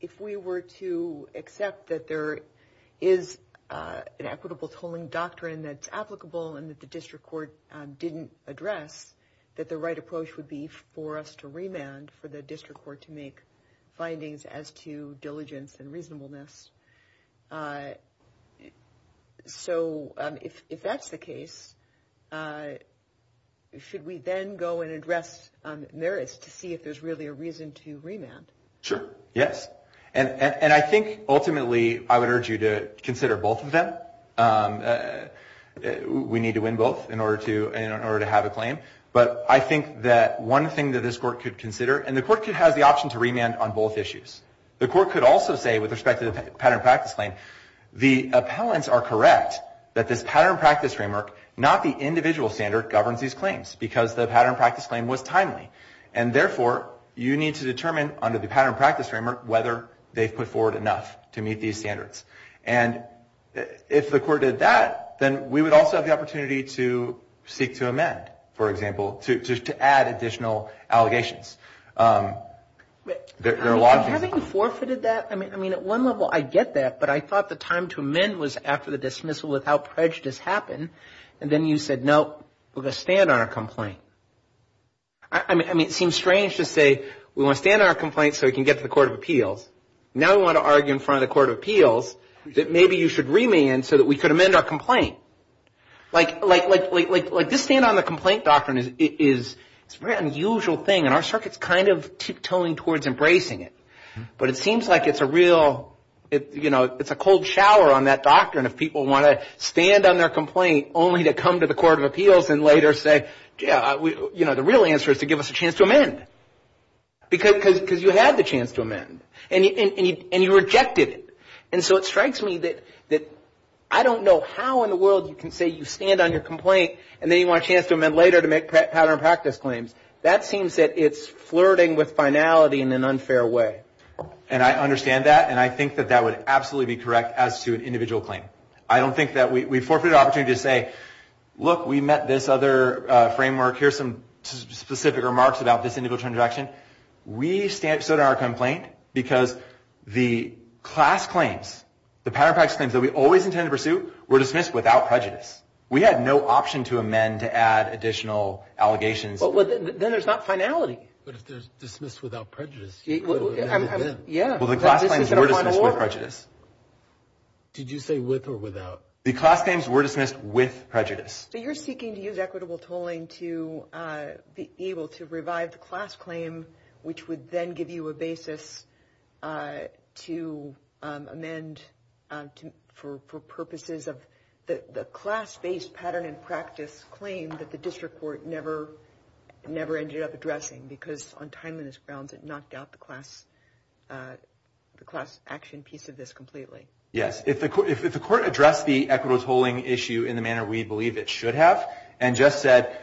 if we were to accept that there is an equitable tolling doctrine that's applicable and that the district court didn't address, that the right approach would be for us to remand for the district court to make findings as to diligence and reasonableness. So if that's the case, should we then go and address merits to see if there's really a reason to remand? Sure, yes. And I think, ultimately, I would urge you to consider both of them. We need to win both in order to have a claim. But I think that one thing that this court could consider, and the court could have the option to remand on both issues. The court could also say, with respect to the pattern practice claim, the appellants are correct that this pattern practice framework, not the individual standard, governs these claims, because the pattern practice claim was timely. And therefore, you need to determine under the pattern practice framework whether they've put forward enough to meet these standards. And if the court did that, then we would also have the opportunity to seek to amend, for example, to add additional allegations. Having forfeited that, I mean, at one level I get that, but I thought the time to amend was after the dismissal with how prejudice happened. And then you said, no, we're going to stand on our complaint. I mean, it seems strange to say, we want to stand on our complaint so we can get to the court of appeals. Now we want to argue in front of the court of appeals that maybe you should remand so that we could amend our complaint. Like this stand on the complaint doctrine is a very unusual thing, and our circuit is kind of towing towards embracing it. But it seems like it's a real, you know, it's a cold shower on that doctrine if people want to stand on their complaint only to come to the court of appeals and later say, yeah, you know, the real answer is to give us a chance to amend. Because you had the chance to amend, and you rejected it. And so it strikes me that I don't know how in the world you can say you stand on your complaint and then you want a chance to amend later to make pattern of practice claims. That seems that it's flirting with finality in an unfair way. And I understand that, and I think that that would absolutely be correct as to an individual claim. I don't think that we forfeited an opportunity to say, look, we met this other framework, here's some specific remarks about this individual transaction. We stood on our complaint because the class claims, the pattern of practice claims that we always intend to pursue were dismissed without prejudice. We had no option to amend to add additional allegations. Well, then there's not finality. But it's dismissed without prejudice. Yeah. Well, the class claims were dismissed without prejudice. Did you say with or without? The class claims were dismissed with prejudice. So you're seeking to use equitable tolling to be able to revive the class claim, which would then give you a basis to amend for purposes of the class-based pattern of practice claim that the district court never ended up addressing because on timeliness grounds, it knocked out the class action piece of this completely. Yes. If the court addressed the equitable tolling issue in the manner we believe it should have and just said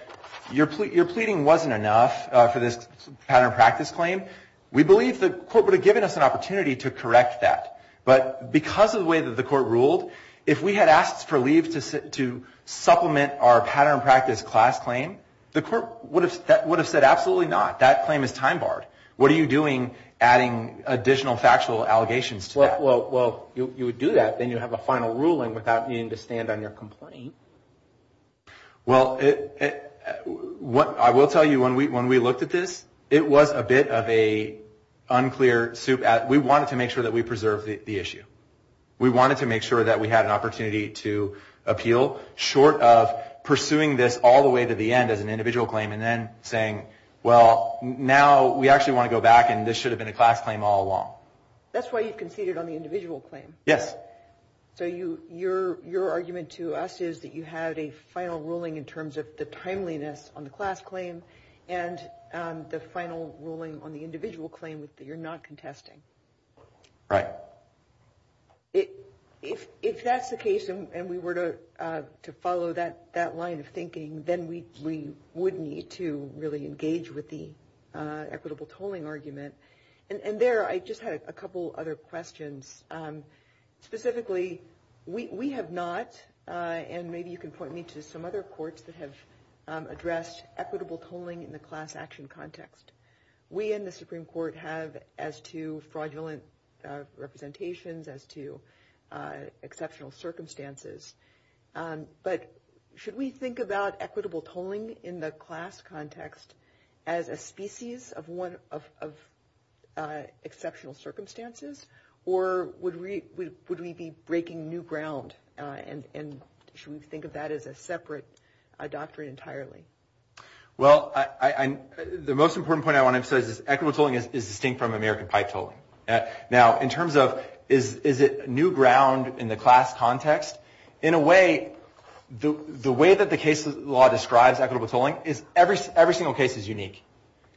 your pleading wasn't enough for this pattern of practice claim, we believe the court would have given us an opportunity to correct that. But because of the way that the court ruled, if we had asked for leaves to supplement our pattern of practice class claim, the court would have said absolutely not. That claim is time-barred. What are you doing adding additional factual allegations to that? Well, you would do that. Then you'd have a final ruling without needing to stand on your complaint. Well, I will tell you when we looked at this, it was a bit of an unclear soup. We wanted to make sure that we preserved the issue. We wanted to make sure that we had an opportunity to appeal short of pursuing this all the way to the end as an individual claim and then saying, well, now we actually want to go back and this should have been a class claim all along. That's why you conceded on the individual claim. Yes. So your argument to us is that you had a final ruling in terms of the timeliness on the class claim and the final ruling on the individual claim that you're not contesting. Right. If that's the case and we were to follow that line of thinking, then we would need to really engage with the equitable tolling argument. There, I just had a couple other questions. Specifically, we have not, and maybe you can point me to some other courts that have addressed equitable tolling in the class action context. We in the Supreme Court have as to fraudulent representations, as to exceptional circumstances. But should we think about equitable tolling in the class context as a species of exceptional circumstances or would we be breaking new ground and should we think of that as a separate doctrine entirely? Well, the most important point I want to emphasize is equitable tolling is distinct from American pipe tolling. Now, in terms of is it new ground in the class context, in a way, the way that the case law describes equitable tolling is every single case is unique.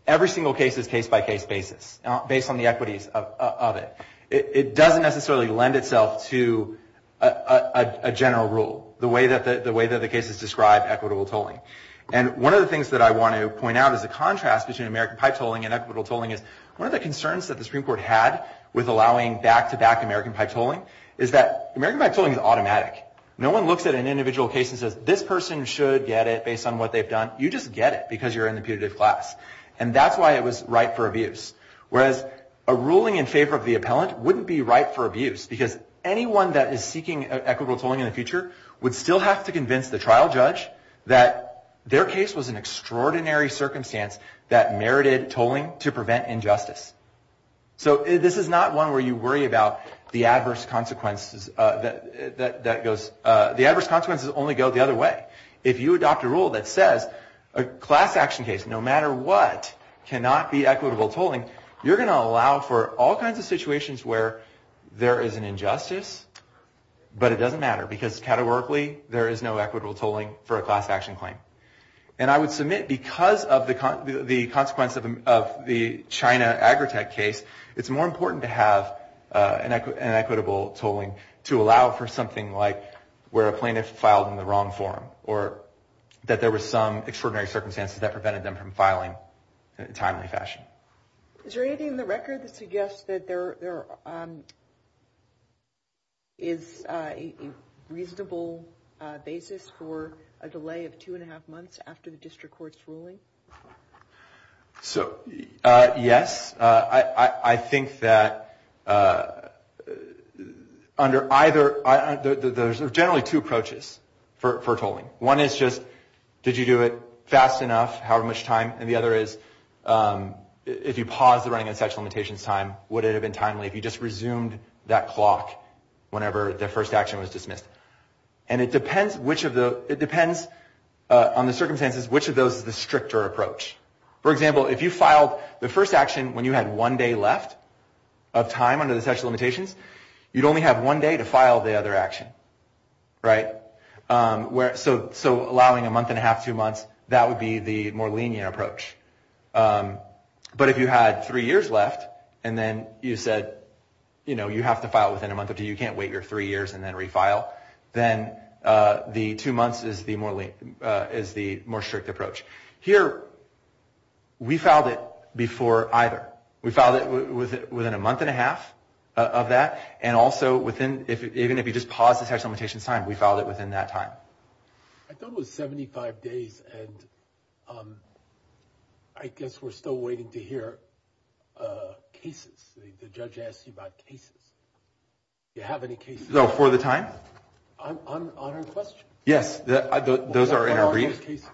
Every single case is case-by-case basis based on the equities of it. It doesn't necessarily lend itself to a general rule, the way that the cases describe equitable tolling. And one of the things that I want to point out is the contrast between American pipe tolling and equitable tolling. One of the concerns that the Supreme Court had with allowing back-to-back American pipe tolling is that American pipe tolling is automatic. No one looks at an individual case and says, this person should get it based on what they've done. You just get it because you're in the putative class. And that's why it was right for abuse. Whereas a ruling in favor of the appellant wouldn't be right for abuse because anyone that is seeking equitable tolling in the future would still have to convince the trial judge that their case was an extraordinary circumstance that merited tolling to prevent injustice. So this is not one where you worry about the adverse consequences. The adverse consequences only go the other way. If you adopt a rule that says a class action case, no matter what, cannot be equitable tolling, you're going to allow for all kinds of situations where there is an injustice, but it doesn't matter because, categorically, there is no equitable tolling for a class action claim. And I would submit because of the consequence of the China Agritech case, it's more important to have an equitable tolling to allow for something like where a plaintiff filed in the wrong forum or that there were some extraordinary circumstances that prevented them from filing in a timely fashion. Is there anything in the record that suggests that there is a reasonable basis after the district court's ruling? So, yes. I think that there's generally two approaches for tolling. One is just, did you do it fast enough, however much time? And the other is, if you paused the running on sexual limitations time, would it have been timely if you just resumed that clock whenever the first action was dismissed? And it depends on the circumstances which of those is the stricter approach. For example, if you filed the first action when you had one day left of time under the sexual limitations, you'd only have one day to file the other action, right? So, allowing a month and a half, two months, that would be the more linear approach. But if you had three years left and then you said, you know, you have to file within a month if you can't wait your three years and then refile, then the two months is the more strict approach. Here, we filed it before either. We filed it within a month and a half of that, and also even if you just paused the sexual limitations time, we filed it within that time. I thought it was 75 days, and I guess we're still waiting to hear cases. The judge asked you about cases. Do you have any cases? No, for the time? On our question? Yes, those are in our briefs.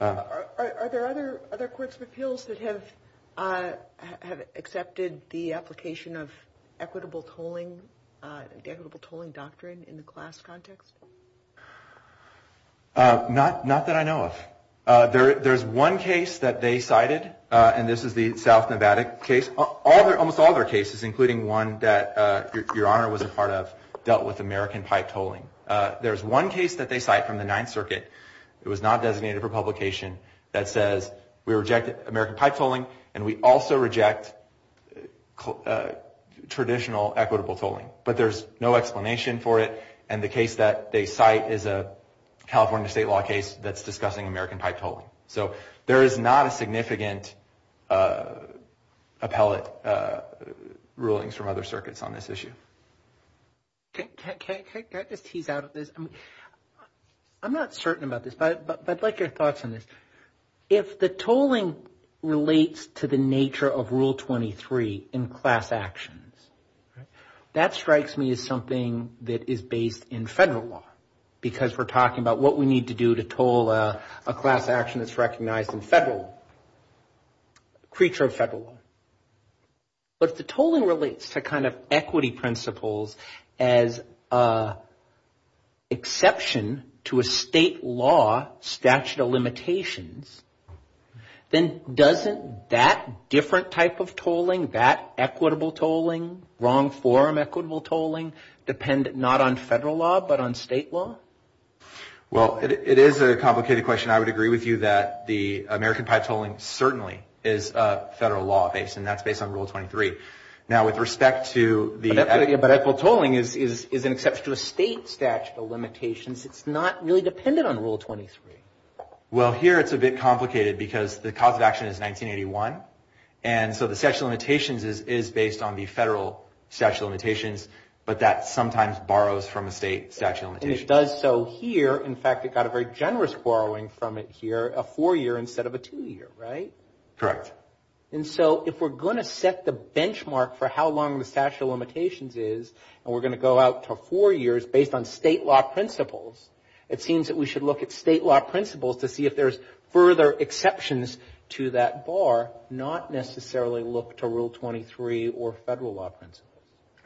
Are there other courts of appeals that have accepted the application of equitable tolling doctrine in the class context? Not that I know of. There's one case that they cited, and this is the South Nevada case. Almost all of their cases, including one that Your Honor was a part of, dealt with American pipe tolling. There's one case that they cite from the Ninth Circuit that was not designated for publication that says we reject American pipe tolling and we also reject traditional equitable tolling, but there's no explanation for it, and the case that they cite is a California state law case that's discussing American pipe tolling. So there is not a significant appellate ruling from other circuits on this issue. I'm not certain about this, but I'd like your thoughts on this. If the tolling relates to the nature of Rule 23 in class actions, that strikes me as something that is based in federal law because we're talking about what we need to do to toll a class action that's recognized in federal, creature of federal law. But if the tolling relates to kind of equity principles as an exception to a state law statute of limitations, then doesn't that different type of tolling, that equitable tolling, wrong form equitable tolling, depend not on federal law but on state law? Well, it is a complicated question. I would agree with you that the American pipe tolling certainly is federal law based, and that's based on Rule 23. Now, with respect to the... But equitable tolling is an exception to a state statute of limitations. It's not really dependent on Rule 23. Well, here it's a bit complicated because the cause of action is 1981, and so the statute of limitations is based on the federal statute of limitations, but that sometimes borrows from a state statute of limitations. And it does so here. In fact, it got a very generous borrowing from it here, a four-year instead of a two-year, right? Correct. And so if we're going to set the benchmark for how long the statute of limitations is, and we're going to go out for four years based on state law principles, it seems that we should look at state law principles to see if there's further exceptions to that bar, not necessarily look to Rule 23 or federal law principles.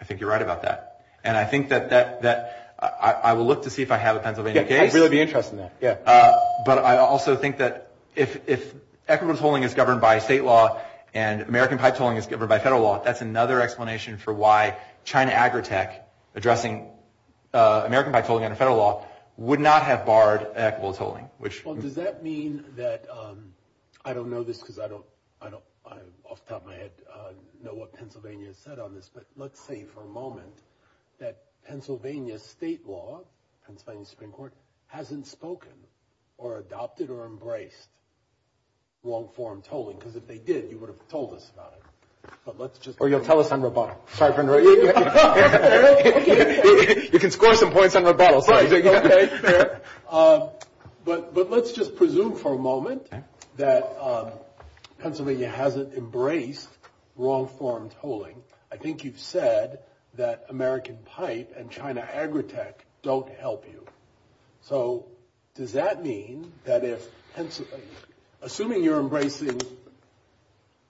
I think you're right about that. And I think that I will look to see if I have a Pennsylvania case. Yeah, I'd really be interested in that. But I also think that if equitable tolling is governed by state law and American pipe tolling is governed by federal law, that's another explanation for why China Agritech, addressing American pipe tolling under federal law, would not have barred equitable tolling, which... Well, does that mean that... I don't know this because I don't off the top of my head know what Pennsylvania has said on this, but let's say for a moment that Pennsylvania state law, Pennsylvania Supreme Court, hasn't spoken or adopted or embraced wrong-form tolling, because if they did, you would have told us about it. But let's just... Or you'll tell us on rebuttal. Sorry for... You can score some points on rebuttal. But let's just presume for a moment that Pennsylvania hasn't embraced wrong-form tolling. I think you've said that American pipe and China Agritech don't help you. So does that mean that if Pennsylvania... Assuming you're embracing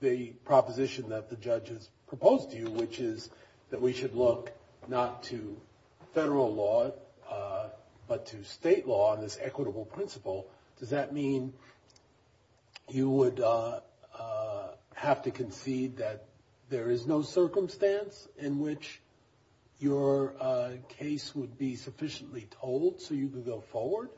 the proposition that the judges proposed to you, which is that we should look not to federal law but to state law and this equitable principle, does that mean you would have to concede that there is no circumstance in which your case would be sufficiently tolled so you could go forward?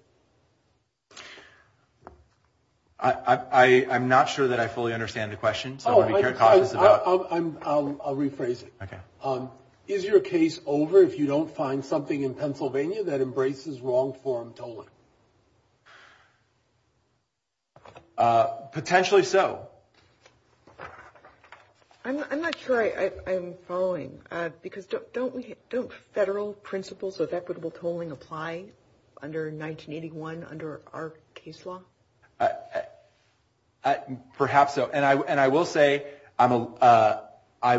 I'm not sure that I fully understand the question. Oh, I'll rephrase it. Is your case over if you don't find something in Pennsylvania that embraces wrong-form tolling? Potentially so. I'm not sure I'm following because don't federal principles of equitable tolling apply under 1981 under our case law? Perhaps so. And I will say I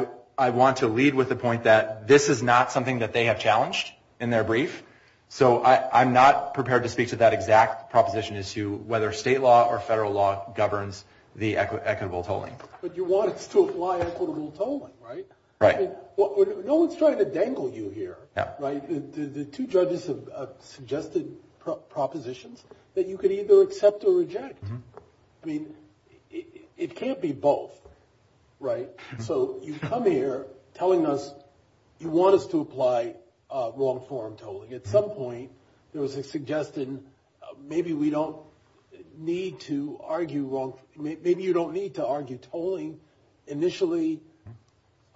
want to lead with the point that this is not something that they have challenged in their brief. So I'm not prepared to speak to that exact proposition as to whether state law or federal law governs the equitable tolling. But you want us to apply equitable tolling, right? Right. No one's trying to dangle you here, right? The two judges have suggested propositions that you could either accept or reject. I mean, it can't be both, right? So you come here telling us you want us to apply wrong-form tolling. At some point, there was a suggestion maybe we don't need to argue wrong, maybe you don't need to argue tolling. Initially,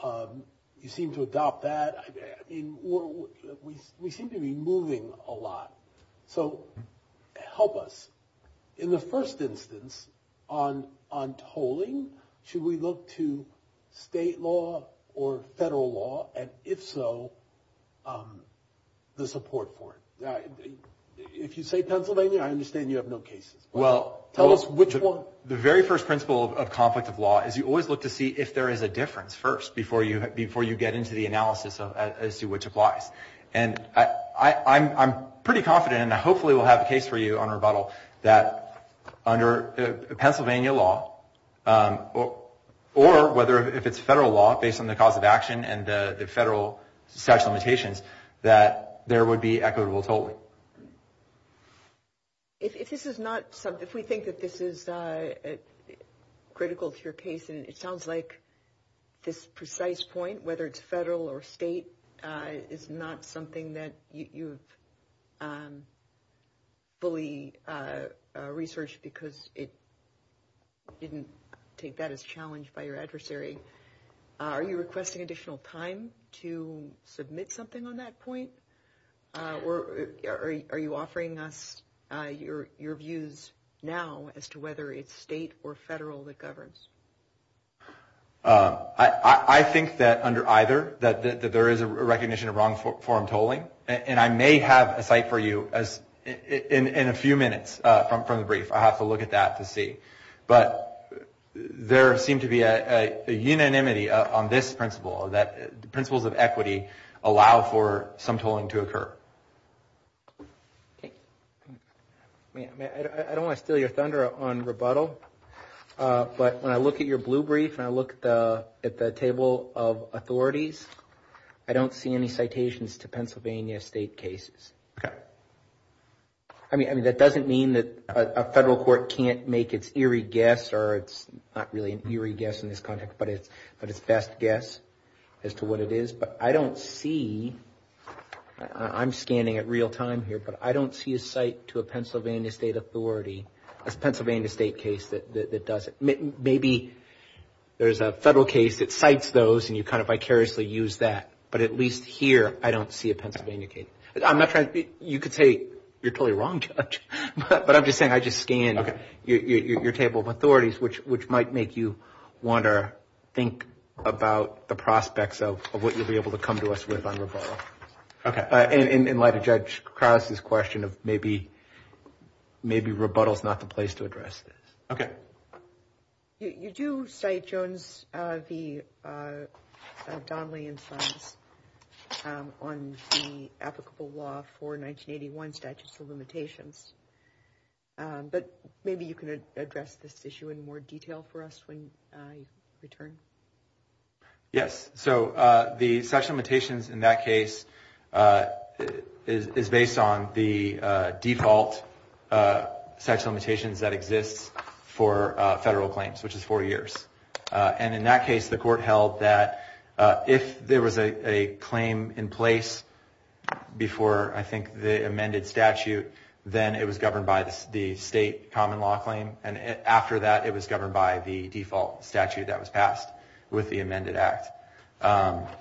you seem to adopt that. I mean, we seem to be moving a lot. So help us. In the first instance on tolling, should we look to state law or federal law, and if so, the support court? If you say Pennsylvania, I understand you have no cases. Well, the very first principle of conflict of law is you always look to see if there is a difference first before you get into the analysis as to which applies. And I'm pretty confident, and hopefully we'll have a case for you on rebuttal, that under Pennsylvania law, or whether if it's federal law, based on the cause of action and the federal statute of limitations, that there would be equitable tolling. If we think that this is critical to your case and it sounds like this precise point, whether it's federal or state, is not something that you've fully researched because it didn't take that as a challenge by your adversary, are you requesting additional time to submit something on that point? Are you offering us your views now as to whether it's state or federal that governs? I think that under either, that there is a recognition of wrong form tolling, and I may have a cite for you in a few minutes from the brief. I'll have to look at that to see. But there seems to be a unanimity on this principle, that principles of equity allow for some tolling to occur. I don't want to steal your thunder on rebuttal, but when I look at your blue brief and I look at the table of authorities, I don't see any citations to Pennsylvania state cases. I mean, that doesn't mean that a federal court can't make its eerie guess, or it's not really an eerie guess in this context, but it's best guessed as to what it is. But I don't see, I'm scanning at real time here, but I don't see a cite to a Pennsylvania state authority, a Pennsylvania state case that does it. Maybe there's a federal case that cites those and you kind of vicariously use that, but at least here I don't see a Pennsylvania case. You could say you're totally wrong, Judge, but I'm just saying I just scanned your table of authorities, which might make you want to think about the prospects of what you'll be able to come to us with on rebuttal. Okay. In light of Judge Krause's question, maybe rebuttal is not the place to address this. Okay. You do cite, Jones, the Donnelly incitement on the applicable law for 1981 statutes of limitations, but maybe you can address this issue in more detail for us when you return. Yes. So the statute of limitations in that case is based on the default statute of limitations that exists for federal claims, which is four years. And in that case the court held that if there was a claim in place before I think the amended statute, then it was governed by the state common law claim, and after that it was governed by the default statute that was passed with the amended act.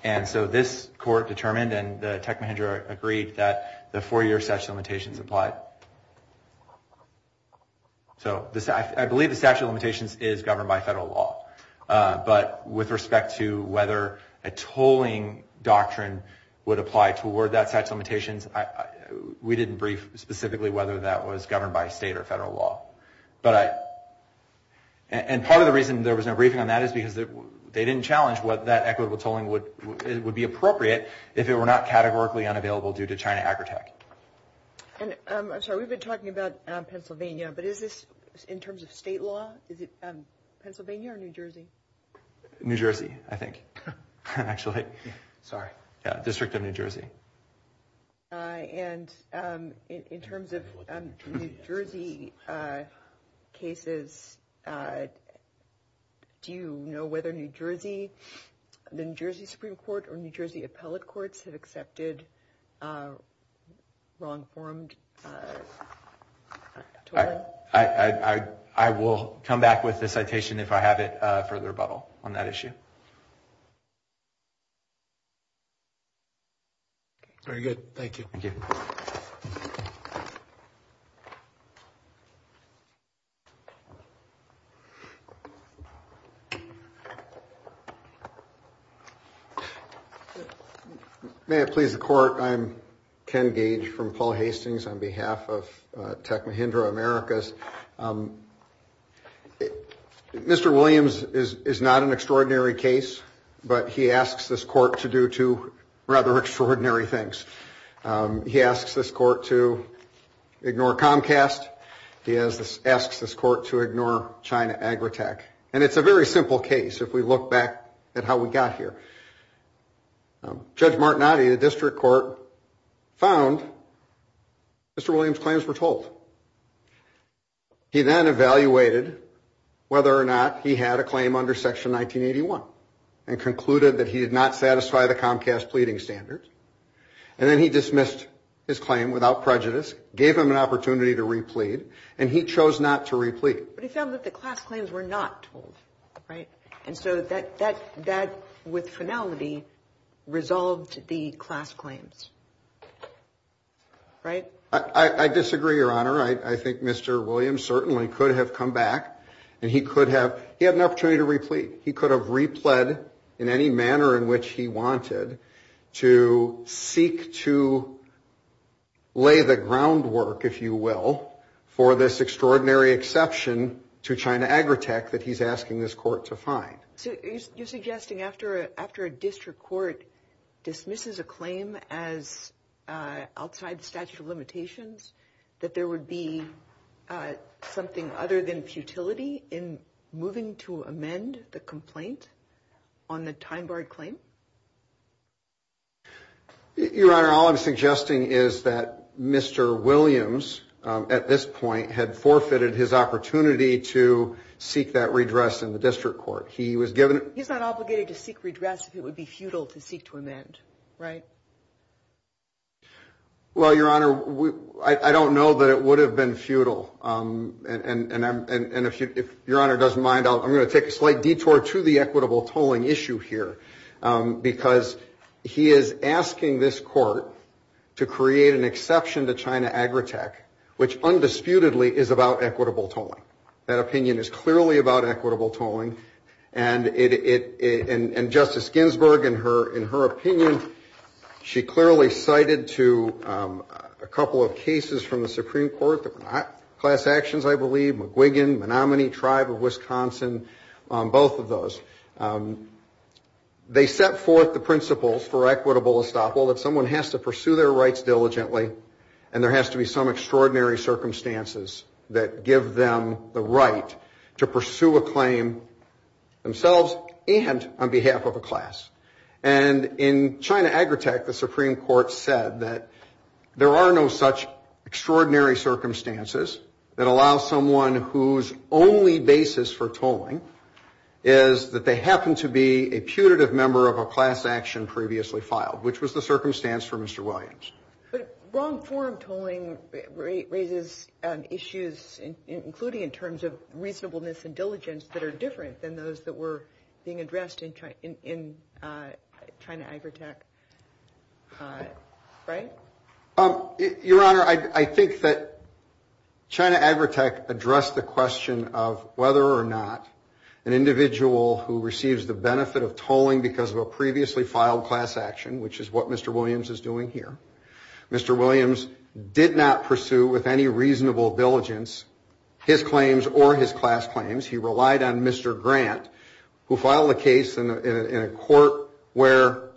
And so this court determined, and Tech Mahindra agreed, that the four-year statute of limitations applied. So I believe the statute of limitations is governed by federal law, but with respect to whether a tolling doctrine would apply toward that statute of limitations, we didn't brief specifically whether that was governed by state or federal law. And part of the reason there was no briefing on that is because they didn't challenge what that equitable tolling would be appropriate if it were not categorically unavailable due to China agri-tech. I'm sorry, we've been talking about Pennsylvania, but is this in terms of state law? Is it Pennsylvania or New Jersey? New Jersey, I think, actually. Sorry. District of New Jersey. And in terms of New Jersey cases, do you know whether New Jersey, the New Jersey Supreme Court or New Jersey appellate courts have accepted wrong-formed tolling? I will come back with the citation if I have a further rebuttal on that issue. Very good. Thank you. May I please record I'm Ken Gage from Paul Hastings on behalf of Tech Mahindra Americas. Mr. Williams is not an extraordinary case, but he asks this court to do two rather extraordinary things. He asks this court to ignore Comcast. He asks this court to ignore China agri-tech. And it's a very simple case, if we look back at how we got here. Judge Martinotti of the district court found Mr. Williams' claims were tolled. He then evaluated whether or not he had a claim under Section 1981 and concluded that he did not satisfy the Comcast pleading standards. And then he dismissed his claim without prejudice, gave him an opportunity to re-plead, and he chose not to re-plead. But he found that the class claims were not tolled. Right? And so that, with finality, resolved the class claims. Right? I disagree, Your Honor. I think Mr. Williams certainly could have come back and he could have had an opportunity to re-plead. He could have re-pled in any manner in which he wanted to seek to lay the groundwork, if you will, for this extraordinary exception to China agri-tech that he's asking this court to find. So you're suggesting after a district court dismisses a claim outside the statute of limitations that there would be something other than futility in moving to amend the complaint on the time-barred claim? Your Honor, all I'm suggesting is that Mr. Williams, at this point, had forfeited his opportunity to seek that redress in the district court. He was given... He's not obligated to seek redress if it would be futile to seek to amend. Right? Well, Your Honor, I don't know that it would have been futile. And if Your Honor doesn't mind, I'm going to take a slight detour to the equitable tolling issue here because he is asking this court to create an exception to China agri-tech, which undisputedly is about equitable tolling. That opinion is clearly about equitable tolling. And Justice Ginsburg, in her opinion, she clearly cited to a couple of cases from the Supreme Court, the class actions, I believe, McGuigan, Menominee Tribe of Wisconsin, both of those. They set forth the principles for equitable estoppel that someone has to pursue their rights diligently and there has to be some extraordinary circumstances that give them the right to pursue a claim themselves and on behalf of a class. And in China agri-tech, the Supreme Court said that there are no such extraordinary circumstances that allow someone whose only basis for tolling is that they happen to be a putative member of a class action previously filed, which was the circumstance for Mr. Williams. But wrong form tolling raises issues, including in terms of reasonableness and diligence, that are different than those that were being addressed in China agri-tech. Frank? Your Honor, I think that China agri-tech addressed the question of whether or not an individual who receives the benefit of tolling because of a previously filed class action, which is what Mr. Williams is doing here, Mr. Williams did not pursue with any reasonable diligence his claims or his class claims. He relied on Mr. Grant, who filed a case in a court where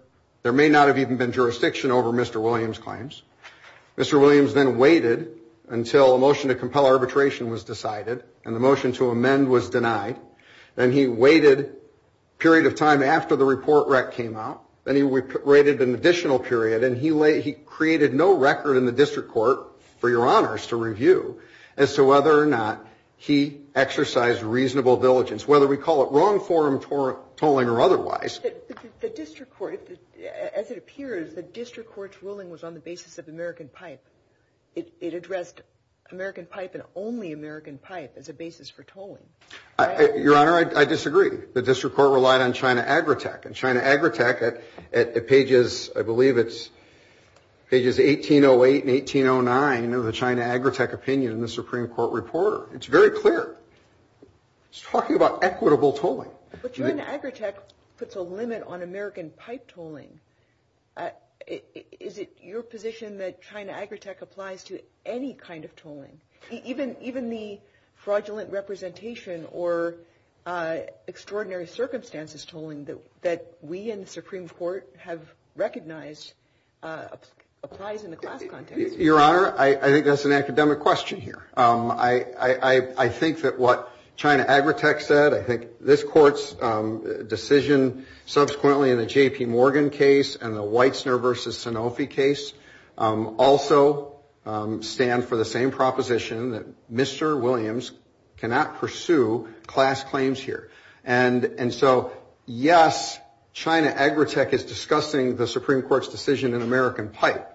there may not have even been jurisdiction over Mr. Williams' claims. Mr. Williams then waited until a motion to compel arbitration was decided and the motion to amend was denied and he waited a period of time after the report rec came out and he waited an additional period and he created no record in the district court, for your honors to review, as to whether or not he exercised reasonable diligence, whether we call it wrong form tolling or otherwise. The district court, as it appears, the district court's ruling was on the basis of American pipe. It addressed American pipe and only American pipe as a basis for tolling. Your Honor, I disagree. The district court relied on China agri-tech and China agri-tech at pages, I believe it's pages 1808 and 1809 of the China agri-tech opinion in the Supreme Court report. It's very clear. It's talking about equitable tolling. But China agri-tech puts a limit on American pipe tolling. Is it your position that China agri-tech applies to any kind of tolling? Even the fraudulent representation or extraordinary circumstances tolling that we in the Supreme Court have recognized applies in the class context. Your Honor, I think that's an academic question here. I think that what China agri-tech said, I think this court's decision subsequently in the J.P. Morgan case and the Weitzner versus Sanofi case also stand for the same proposition that Mr. Williams cannot pursue class claims here. And so, yes, China agri-tech is discussing the Supreme Court's decision in American pipe.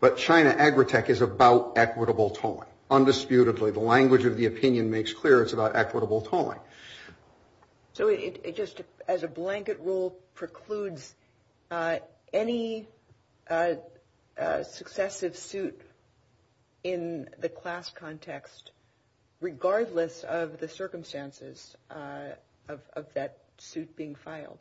But China agri-tech is about equitable tolling. Undisputedly, the language of the opinion makes clear it's about equitable tolling. So it just, as a blanket rule, precludes any successive suit in the class context regardless of the circumstances of that suit being filed.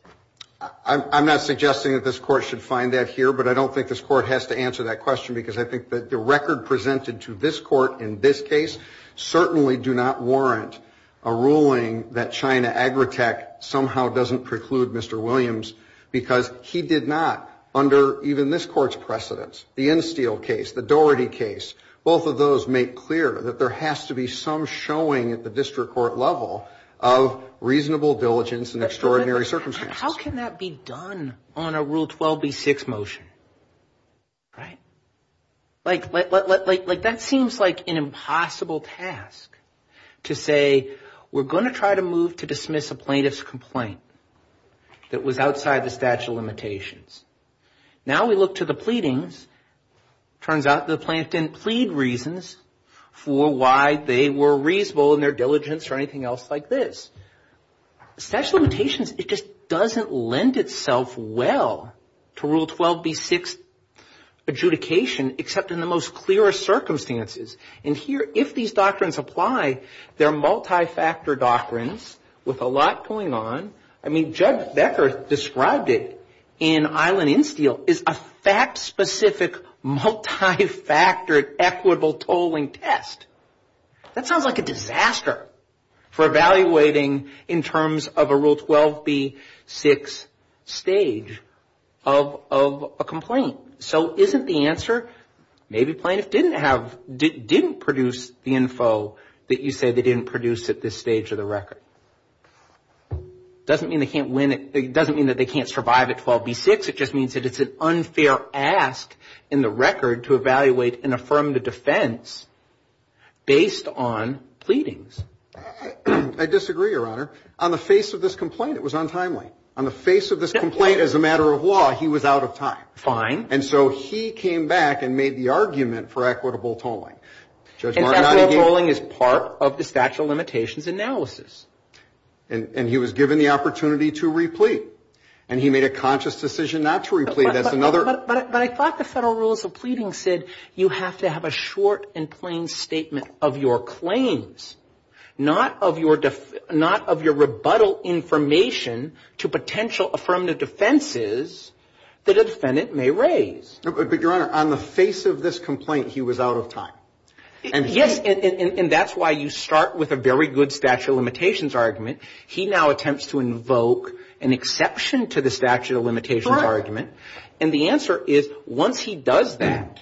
I'm not suggesting that this court should find that here, but I don't think this court has to answer that question because I think that the record presented to this court in this case certainly do not warrant a ruling that China agri-tech somehow doesn't preclude Mr. Williams because he did not under even this court's precedence. The Ensteel case, the Doherty case, both of those make clear that there has to be some showing at the district court level of reasonable diligence in extraordinary circumstances. How can that be done on a Rule 12b6 motion? Right? Like, that seems like an impossible task to say, we're going to try to move to dismiss a plaintiff's complaint that was outside the statute of limitations. Now we look to the pleadings, turns out the plaintiffs didn't plead reasons for why they were reasonable in their diligence or anything else like this. Statute of limitations, it just doesn't lend itself well to Rule 12b6 adjudication, except in the most clear circumstances. And here, if these doctrines apply, they're multi-factor doctrines with a lot going on. I mean, Judge Becker described it in Island Ensteel as a fact-specific multi-factor equitable tolling test. That sounds like a disaster for evaluating in terms of a Rule 12b6 stage of a complaint. So isn't the answer, maybe plaintiffs didn't produce the info that you say they didn't produce at this stage of the record. It doesn't mean that they can't survive at 12b6, it just means that it's an unfair ask in the record to evaluate and affirm the defense based on pleadings. I disagree, Your Honor. On the face of this complaint, it was untimely. On the face of this complaint, as a matter of law, he was out of time. Fine. And so he came back and made the argument for equitable tolling. And equitable tolling is part of the statute of limitations analysis. And he was given the opportunity to replete. And he made a conscious decision not to replete. But I thought the Federal Rules of Pleading said you have to have a short and plain statement of your claims, not of your rebuttal information to potential affirmative defenses that a defendant may raise. But, Your Honor, on the face of this complaint, he was out of time. Yes, and that's why you start with a very good statute of limitations argument. He now attempts to invoke an exception to the statute of limitations argument. And the answer is once he does that,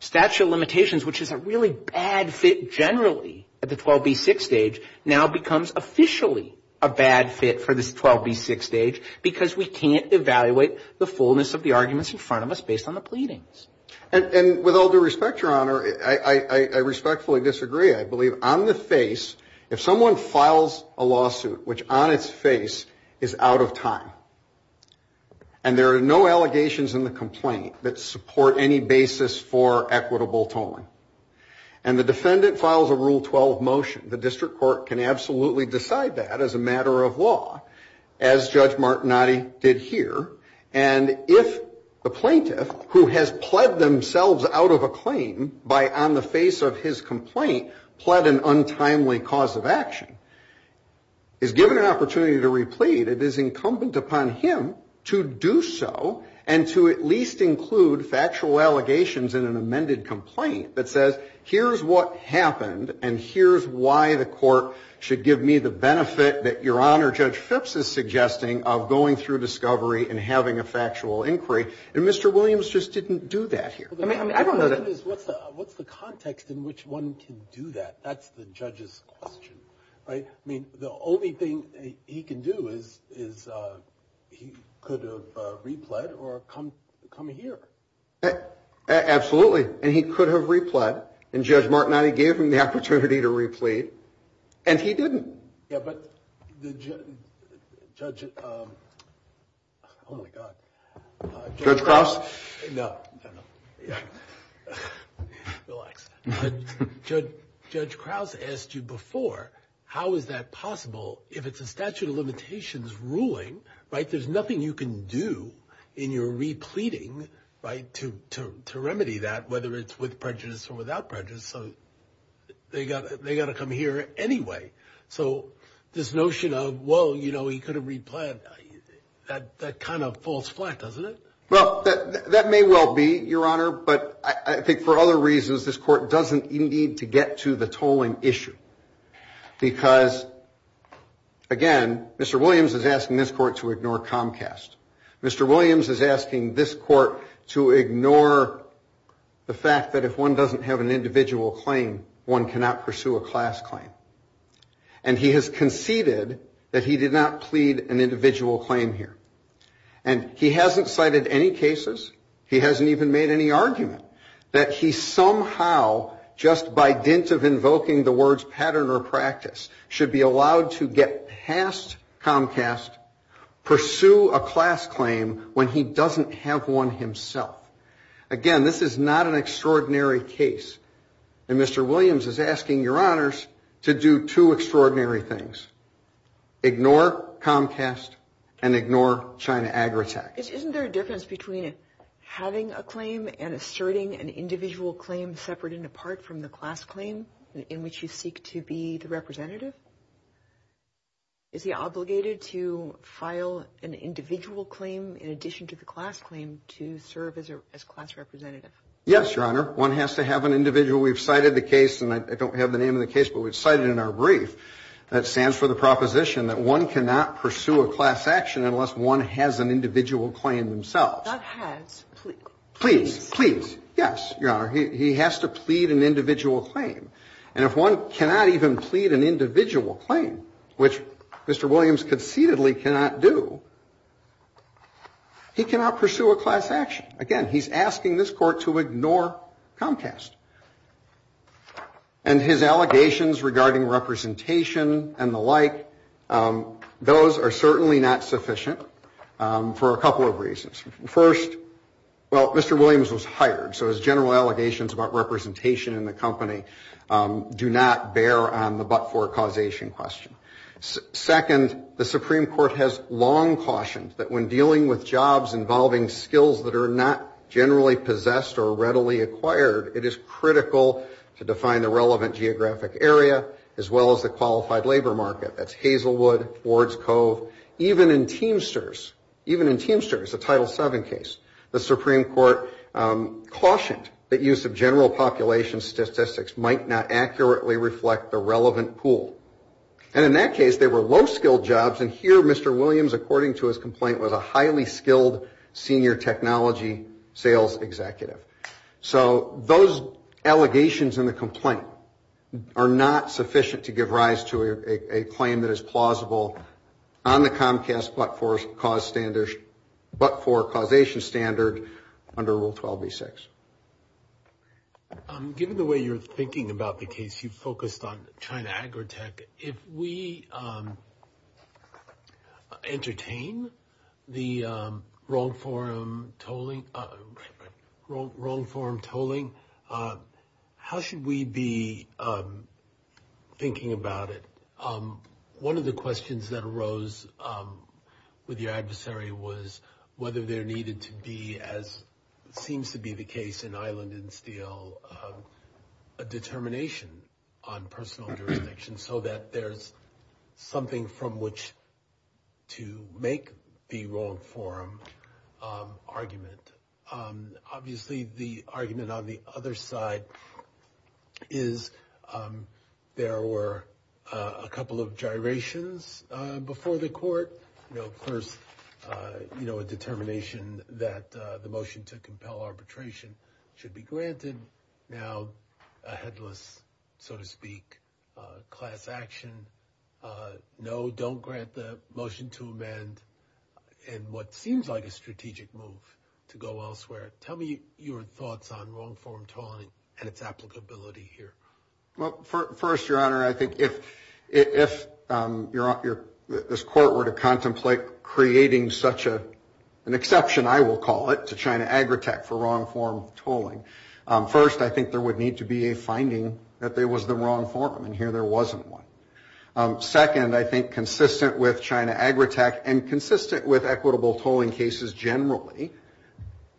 statute of limitations, which is a really bad fit generally at the 12B6 stage, now becomes officially a bad fit for this 12B6 stage because we can't evaluate the fullness of the arguments in front of us based on the pleadings. And with all due respect, Your Honor, I respectfully disagree. I believe on the face, if someone files a lawsuit which on its face is out of time and there are no allegations in the complaint that support any basis for equitable tolling, and the defendant files a Rule 12 motion, the district court can absolutely decide that as a matter of law, as Judge Martinelli did here. And if the plaintiff, who has pled themselves out of a claim on the face of his complaint, pled an untimely cause of action, is given an opportunity to replead, it is incumbent upon him to do so and to at least include factual allegations in an amended complaint that says here's what happened and here's why the court should give me the benefit that Your Honor, Judge Phipps, is suggesting of going through discovery and having a factual inquiry. And Mr. Williams just didn't do that here. What's the context in which one can do that? That's the judge's question, right? I mean, the only thing he can do is he could have repled or come here. Absolutely, and he could have repled, and Judge Martinelli gave him the opportunity to replead, and he didn't. Yeah, but the judge, oh my God. Judge Krause? No. Relax. Judge Krause asked you before, how is that possible? If it's a statute of limitations ruling, right, there's nothing you can do in your repleading, right, to remedy that, whether it's with prejudice or without prejudice, so they've got to come here anyway. So this notion of, well, you know, he could have repled, that kind of falls flat, doesn't it? Well, that may well be, Your Honor, but I think for other reasons this court doesn't need to get to the tolling issue because, again, Mr. Williams is asking this court to ignore Comcast. Mr. Williams is asking this court to ignore the fact that if one doesn't have an individual claim, one cannot pursue a class claim. And he has conceded that he did not plead an individual claim here. And he hasn't cited any cases. He hasn't even made any argument that he somehow, just by dint of invoking the words pattern or practice, should be allowed to get past Comcast, pursue a class claim when he doesn't have one himself. Again, this is not an extraordinary case. And Mr. Williams is asking Your Honors to do two extraordinary things, ignore Comcast and ignore China Agrotech. Isn't there a difference between having a claim and asserting an individual claim separate and apart from the class claim in which you seek to be the representative? Is he obligated to file an individual claim in addition to the class claim to serve as class representative? Yes, Your Honor. One has to have an individual. We've cited a case, and I don't have the name of the case, but we've cited it in our brief. That stands for the proposition that one cannot pursue a class action unless one has an individual claim themselves. Not has. Plead. Plead. Plead. Yes, Your Honor. He has to plead an individual claim. And if one cannot even plead an individual claim, which Mr. Williams conceitedly cannot do, he cannot pursue a class action. Again, he's asking this court to ignore Comcast. And his allegations regarding representation and the like, those are certainly not sufficient for a couple of reasons. First, well, Mr. Williams was hired, so his general allegations about representation in the company do not bear on the but-for-causation question. Second, the Supreme Court has long cautioned that when dealing with jobs involving skills that are not generally possessed or readily acquired, it is critical to define the relevant geographic area as well as the qualified labor market. That's Hazelwood, Ford's Cove. Even in Teamsters, even in Teamsters, the Title VII case, the Supreme Court cautioned that use of general population statistics might not accurately reflect the relevant pool. And in that case, they were low-skilled jobs, and here Mr. Williams, according to his complaint, was a highly-skilled senior technology sales executive. So those allegations in the complaint are not sufficient to give rise to a claim that is plausible on the Comcast but-for-causation standard under Rule 1286. Given the way you're thinking about the case, you've focused on China Agritech. If we entertain the rolled-form tolling, how should we be thinking about it? One of the questions that arose with the adversary was whether there needed to be, as seems to be the case in Ireland, a determination on personal jurisdiction so that there's something from which to make the rolled-form argument. Obviously, the argument on the other side is there were a couple of gyrations before the court. Of course, a determination that the motion to compel arbitration should be granted. Now, a headless, so to speak, class action. No, don't grant the motion to amend in what seems like a strategic move to go elsewhere. Tell me your thoughts on rolled-form tolling and its applicability here. Well, first, Your Honor, I think if this court were to contemplate creating such an exception, I will call it, to China Agritech for wrong-form tolling. First, I think there would need to be a finding that there was the wrong form, and here there wasn't one. Second, I think consistent with China Agritech and consistent with equitable tolling cases generally,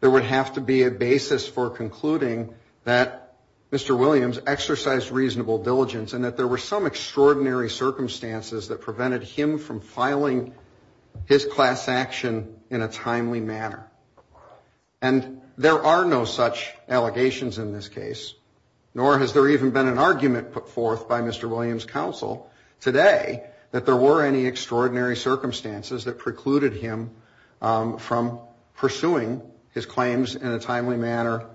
there would have to be a basis for concluding that Mr. Williams exercised reasonable diligence and that there were some extraordinary circumstances that prevented him from filing his class action in a timely manner. And there are no such allegations in this case, nor has there even been an argument put forth by Mr. Williams' counsel today that there were any extraordinary circumstances that precluded him from pursuing his claims in a timely manner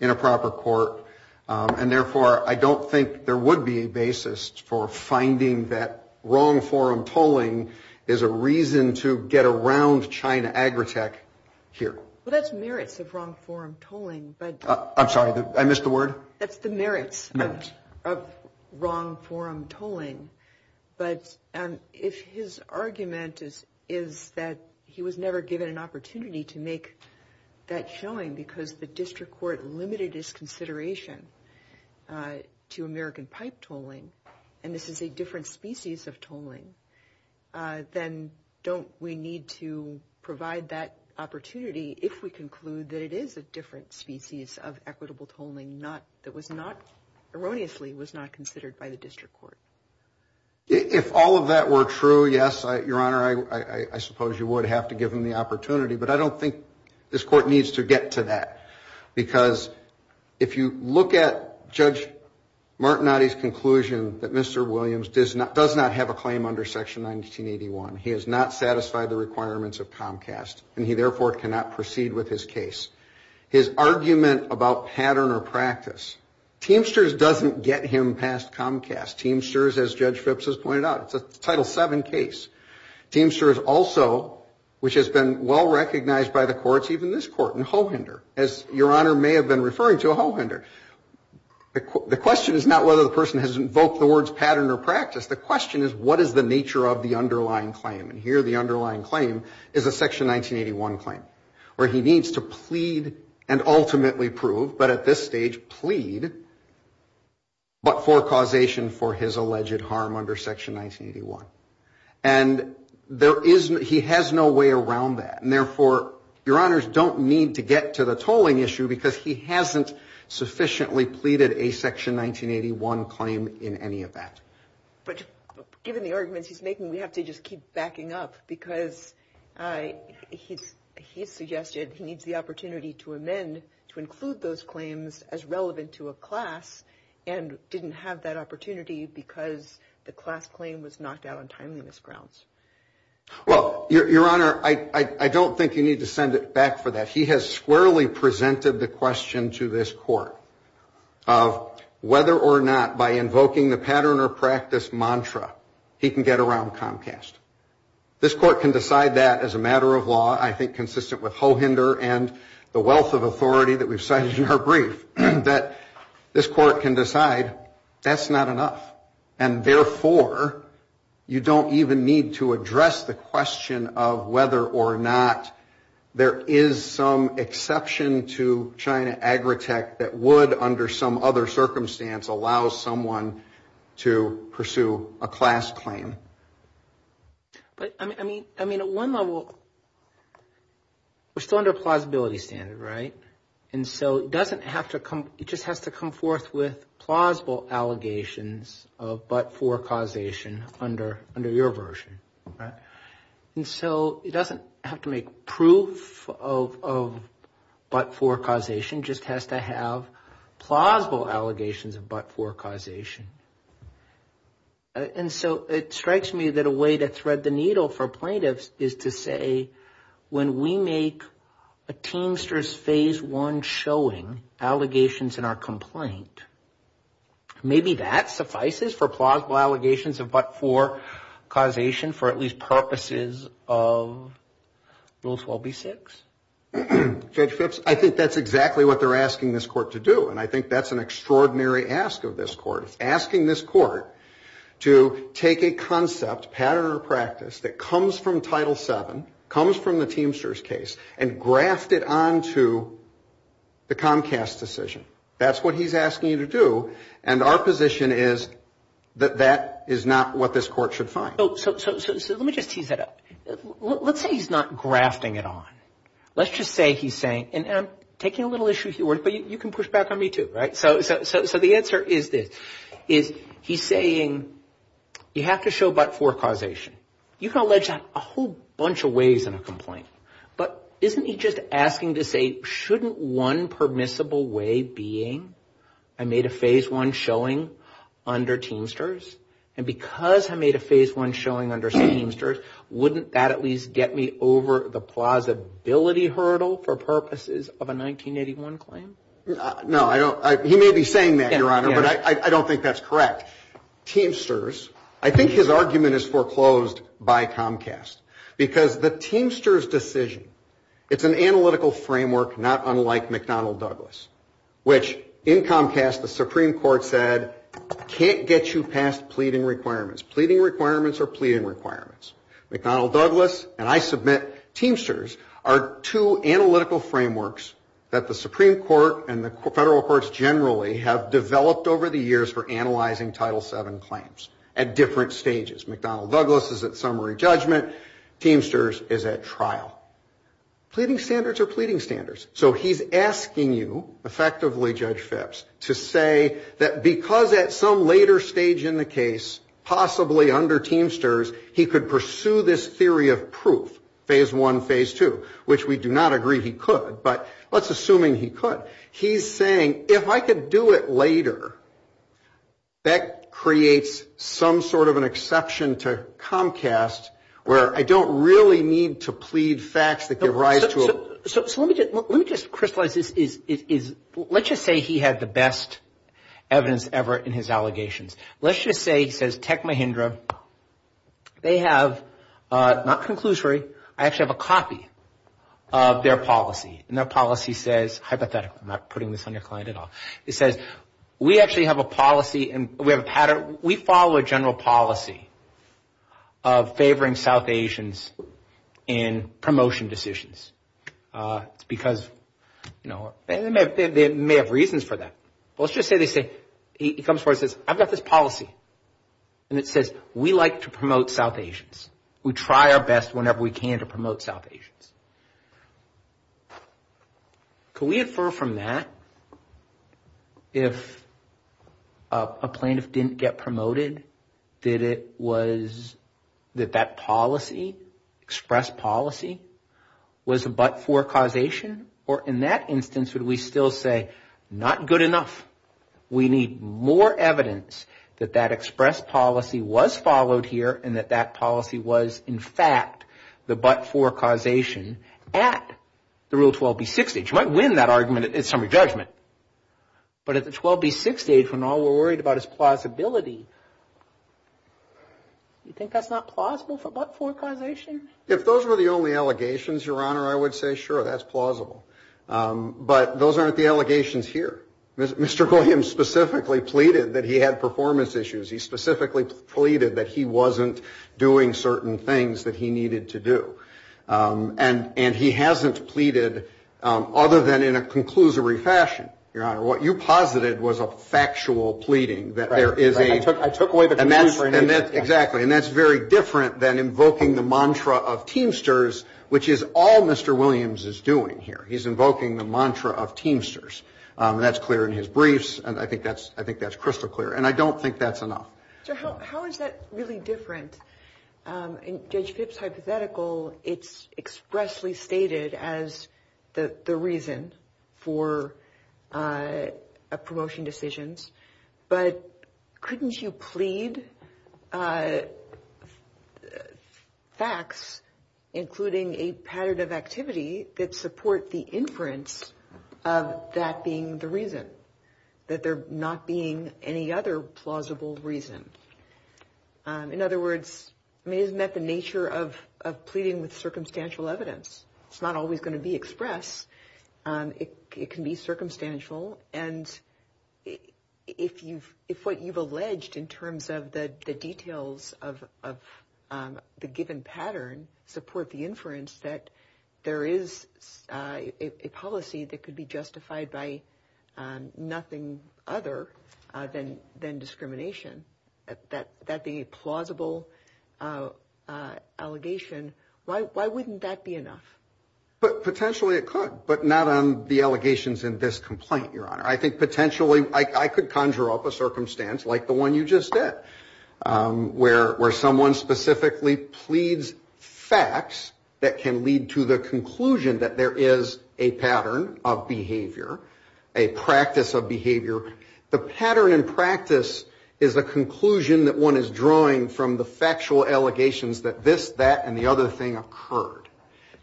in a proper court. And therefore, I don't think there would be a basis for finding that wrong-form tolling is a reason to get around China Agritech here. Well, that's merits of wrong-form tolling. I'm sorry, I missed the word? That's the merits of wrong-form tolling. But if his argument is that he was never given an opportunity to make that showing because the district court limited his consideration to American pipe tolling and this is a different species of tolling, then don't we need to provide that opportunity if we conclude that it is a different species of equitable tolling that was not, erroneously, was not considered by the district court? If all of that were true, yes, Your Honor, I suppose you would have to give him the opportunity, but I don't think this court needs to get to that because if you look at Judge Martinotti's conclusion that Mr. Williams does not have a claim under Section 1981, he has not satisfied the requirements of Comcast and he therefore cannot proceed with his case. His argument about pattern or practice, Teamsters doesn't get him past Comcast. Teamsters, as Judge Cooks has pointed out, it's a Title VII case. Teamsters also, which has been well-recognized by the courts, even this court in Hohender, as Your Honor may have been referring to, Hohender. The question is not whether the person has invoked the words pattern or practice. The question is what is the nature of the underlying claim and here the underlying claim is a Section 1981 claim where he needs to plead and ultimately prove, but at this stage plead, but for causation for his alleged harm under Section 1981 and he has no way around that and therefore Your Honors don't need to get to the tolling issue because he hasn't sufficiently pleaded a Section 1981 claim in any of that. But given the arguments he's making, we have to just keep backing up because he has suggested he needs the opportunity to amend to include those claims as relevant to a class and didn't have that opportunity because the class claim was knocked out on timeless grounds. Well, Your Honor, I don't think you need to send it back for that. He has squarely presented the question to this court of whether or not by invoking the pattern or practice mantra he can get around Comcast. This court can decide that as a matter of law, I think consistent with Hohender and the wealth of authority that we've cited in our brief, that this court can decide that's not enough and therefore you don't even need to address the question of whether or not there is some exception to China Agritech that would under some other circumstance allow someone to pursue a class claim. We're still under a plausibility standard, right? And so it just has to come forth with plausible allegations of but-for causation under your version, right? And so it doesn't have to make proof of but-for causation, just has to have plausible allegations of but-for causation. And so it strikes me that a way to thread the needle for plaintiffs is to say when we make a Teamsters Phase I showing allegations in our complaint, maybe that suffices for plausible allegations of but-for causation for at least purposes of Rule 12b-6. Judge Fuchs, I think that's exactly what they're asking this court to do and I think that's an extraordinary ask of this court. Asking this court to take a concept, pattern or practice that comes from Title VII, comes from the Teamsters case and graft it onto the Comcast decision. That's what he's asking you to do and our position is that that is not what this court should find. So let me just tease that out. Let's say he's not grafting it on. Let's just say he's saying, and I'm taking a little issue here but you can push back on me too, right? So the answer is this. He's saying you have to show but-for causation. You can allege that a whole bunch of ways in a complaint but isn't he just asking to say, shouldn't one permissible way being I made a Phase I showing under Teamsters and because I made a Phase I showing under Teamsters, wouldn't that at least get me over the plausibility hurdle for purposes of a 1981 claim? No, he may be saying that, Your Honor, but I don't think that's correct. Teamsters, I think his argument is foreclosed by Comcast because the Teamsters decision, it's an analytical framework not unlike McDonnell-Douglas, which in Comcast, the Supreme Court said can't get you past pleading requirements. Pleading requirements are pleading requirements. McDonnell-Douglas, and I submit Teamsters, are two analytical frameworks that the Supreme Court and the federal courts generally have developed over the years for analyzing Title VII claims at different stages. McDonnell-Douglas is at summary judgment. Teamsters is at trial. Pleading standards are pleading standards. So he's asking you, effectively Judge Phipps, to say that because at some later stage in the case, possibly under Teamsters, he could pursue this theory of proof, Phase I, Phase II, which we do not agree he could, but let's assume he could. He's saying if I could do it later, that creates some sort of an exception to Comcast where I don't really need to plead facts that give rise to a... So let me just crystallize this. Let's just say he had the best evidence ever in his allegations. Let's just say, says Tech Mahindra, they have, not conclusory, I actually have a copy of their policy, and their policy says, hypothetically, I'm not putting this on your client at all, but it says we actually have a policy, and we have a pattern, we follow a general policy of favoring South Asians in promotion decisions because they may have reasons for that. Let's just say they say, he comes forward and says, I've got this policy, and it says we like to promote South Asians. We try our best whenever we can to promote South Asians. Can we infer from that, if a plaintiff didn't get promoted, that it was, that that policy, express policy, was a but-for causation? Or in that instance, would we still say, not good enough. We need more evidence that that express policy was followed here and that that policy was, in fact, the but-for causation at the Rule 12B6 stage. You might win that argument at summary judgment, but at the 12B6 stage, when all we're worried about is plausibility, you think that's not plausible for but-for causation? If those were the only allegations, Your Honor, I would say, sure, that's plausible. But those aren't the allegations here. Mr. Williams specifically pleaded that he had performance issues. He specifically pleaded that he wasn't doing certain things that he needed to do. And he hasn't pleaded, other than in a conclusory fashion, Your Honor, what you posited was a factual pleading. That there is a... Right, I took away the... Exactly. And that's very different than invoking the mantra of Teamsters, which is all Mr. Williams is doing here. He's invoking the mantra of Teamsters. And that's clear in his briefs, and I think that's crystal clear. And I don't think that's enough. So how is that really different? In Judge Kipp's hypothetical, it's expressly stated as the reason for promotion decisions. But couldn't you plead facts, including a pattern of activity, that there not being any other plausible reason? In other words, isn't that the nature of pleading with circumstantial evidence? It's not always going to be expressed. It can be circumstantial. And if what you've alleged in terms of the details of the given pattern support the inference that there is a policy that could be justified by nothing other than discrimination, that that being a plausible allegation, why wouldn't that be enough? But potentially it could, but not on the allegations in this complaint, Your Honor. I think potentially I could conjure up a circumstance like the one you just did, where someone specifically pleads facts that can lead to the conclusion that there is a pattern of behavior, a practice of behavior. The pattern in practice is a conclusion that one is drawing from the factual allegations that this, that, and the other thing occurred.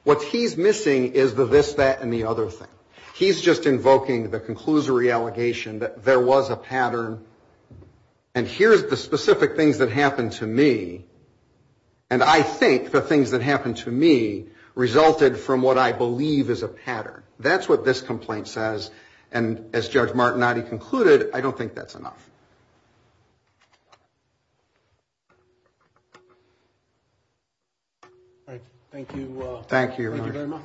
What he's missing is the this, that, and the other thing. He's just invoking the conclusory allegation that there was a pattern, and here's the specific things that happened to me, and I think the things that happened to me resulted from what I believe is a pattern. That's what this complaint says, and as Judge Martinotti concluded, I don't think that's enough. All right. Thank you. Thank you, Your Honor. Thank you very much.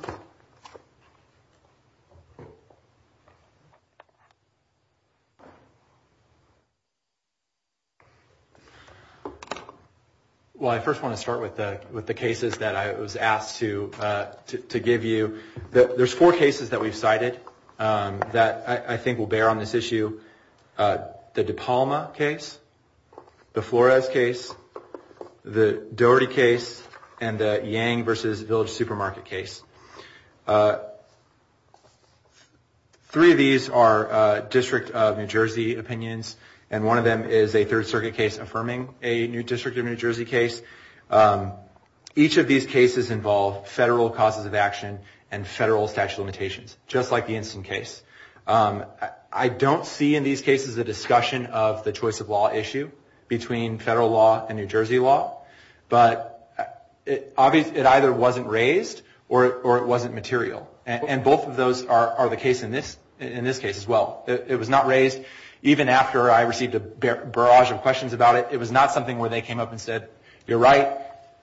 Well, I first want to start with the cases that I was asked to give you. There's four cases that we've cited that I think will bear on this issue. The DePalma case, the Flores case, the Doherty case, and the Yang versus Village Supermarket case. Three of these are District of New Jersey opinions, and one of them is a Third Circuit case affirming a New District of New Jersey case. Each of these cases involve federal causes of action and federal statute of limitations, just like the Instant case. I don't see in these cases a discussion of the choice of law issue between federal law and New Jersey law, but it either wasn't raised or it wasn't material, and both of those are the case in this case as well. It was not raised even after I received a barrage of questions about it. It was not something where they came up and said, you're right,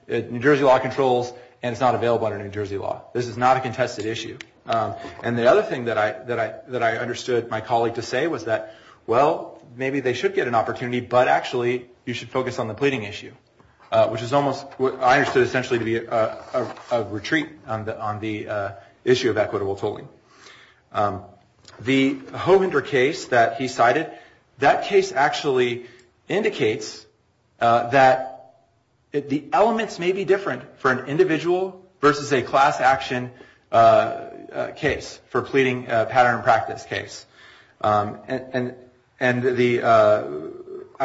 New Jersey law controls, and it's not available under New Jersey law. This is not a contested issue. And the other thing that I understood my colleague to say was that, well, maybe they should get an opportunity, but actually you should focus on the pleading issue, which I understood essentially to be a retreat on the issue of equitable tolling. The Hovinder case that he cited, that case actually indicates that the elements may be different for an individual versus a class action case for pleading pattern practice case. I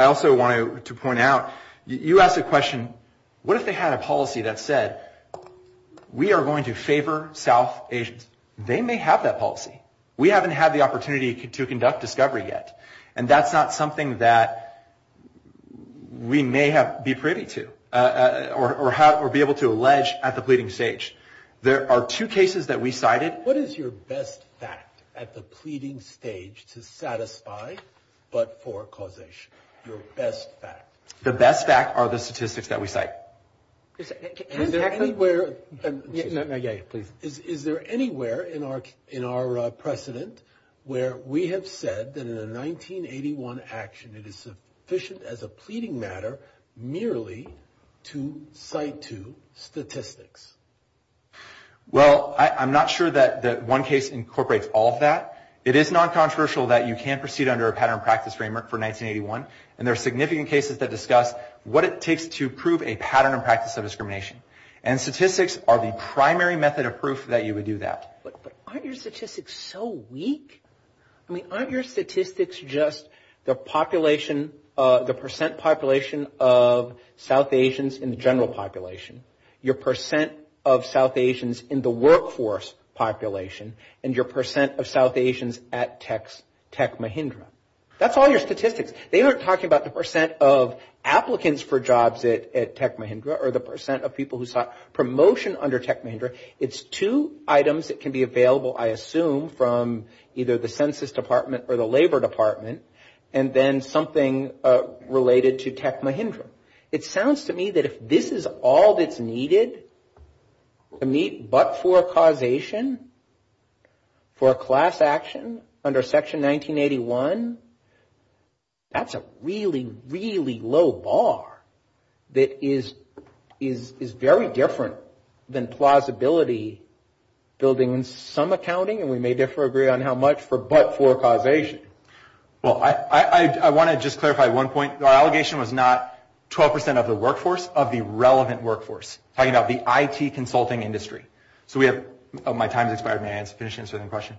also wanted to point out, you asked a question, what if they had a policy that said, we are going to favor South Asians? They may have that policy. We haven't had the opportunity to conduct discovery yet, and that's not something that we may be privy to or be able to allege at the pleading stage. There are two cases that we cited. What is your best fact at the pleading stage to satisfy but for causation? Your best fact. The best facts are the statistics that we cite. Is there anywhere in our precedent where we have said that in a 1981 action it is sufficient as a pleading matter merely to cite two statistics? Well, I'm not sure that one case incorporates all of that. It is non-controversial that you can proceed under a pattern practice framework for 1981, and there are significant cases that discuss what it takes to prove a pattern or practice of discrimination. And statistics are the primary method of proof that you would do that. But aren't your statistics so weak? I mean, aren't your statistics just the population, the percent population of South Asians in the general population, your percent of South Asians in the workforce population, and your percent of South Asians at Tech Mahindra? That's all your statistics. They weren't talking about the percent of applicants for jobs at Tech Mahindra or the percent of people who sought promotion under Tech Mahindra. It's two items that can be available, I assume, from either the Census Department or the Labor Department, and then something related to Tech Mahindra. It sounds to me that if this is all that's needed to meet but for causation for a class action under Section 1981, that's a really, really low bar that is very different than plausibility building some accounting, and we may differ or agree on how much, but for causation. Well, I want to just clarify one point. Our allegation was not 12% of the workforce, of the relevant workforce. Talking about the IT consulting industry. Oh, my time has expired. May I finish answering the question?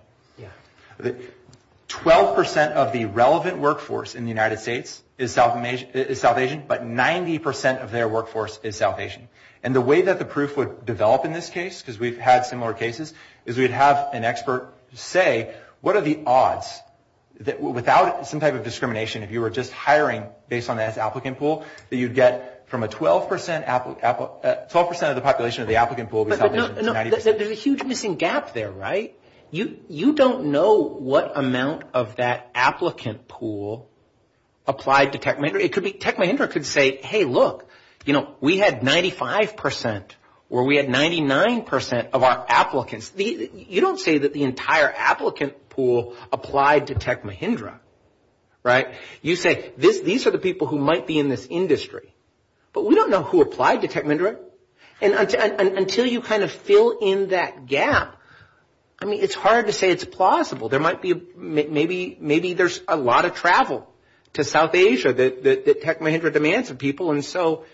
Twelve percent of the relevant workforce in the United States is South Asian, but 90% of their workforce is South Asian. And the way that the proof would develop in this case, because we've had similar cases, is we'd have an expert say, what are the odds that without some type of discrimination, if you were just hiring based on that applicant pool, that you'd get from a 12% of the population of the applicant pool. There's a huge missing gap there, right? You don't know what amount of that applicant pool applied to Tech Mahindra. Tech Mahindra could say, hey, look, we had 95% or we had 99% of our applicants. You don't say that the entire applicant pool applied to Tech Mahindra, right? You say, these are the people who might be in this industry, but we don't know who applied to Tech Mahindra. And until you kind of fill in that gap, I mean, it's hard to say it's plausible. There might be, maybe there's a lot of travel to South Asia that Tech Mahindra demands of people, and so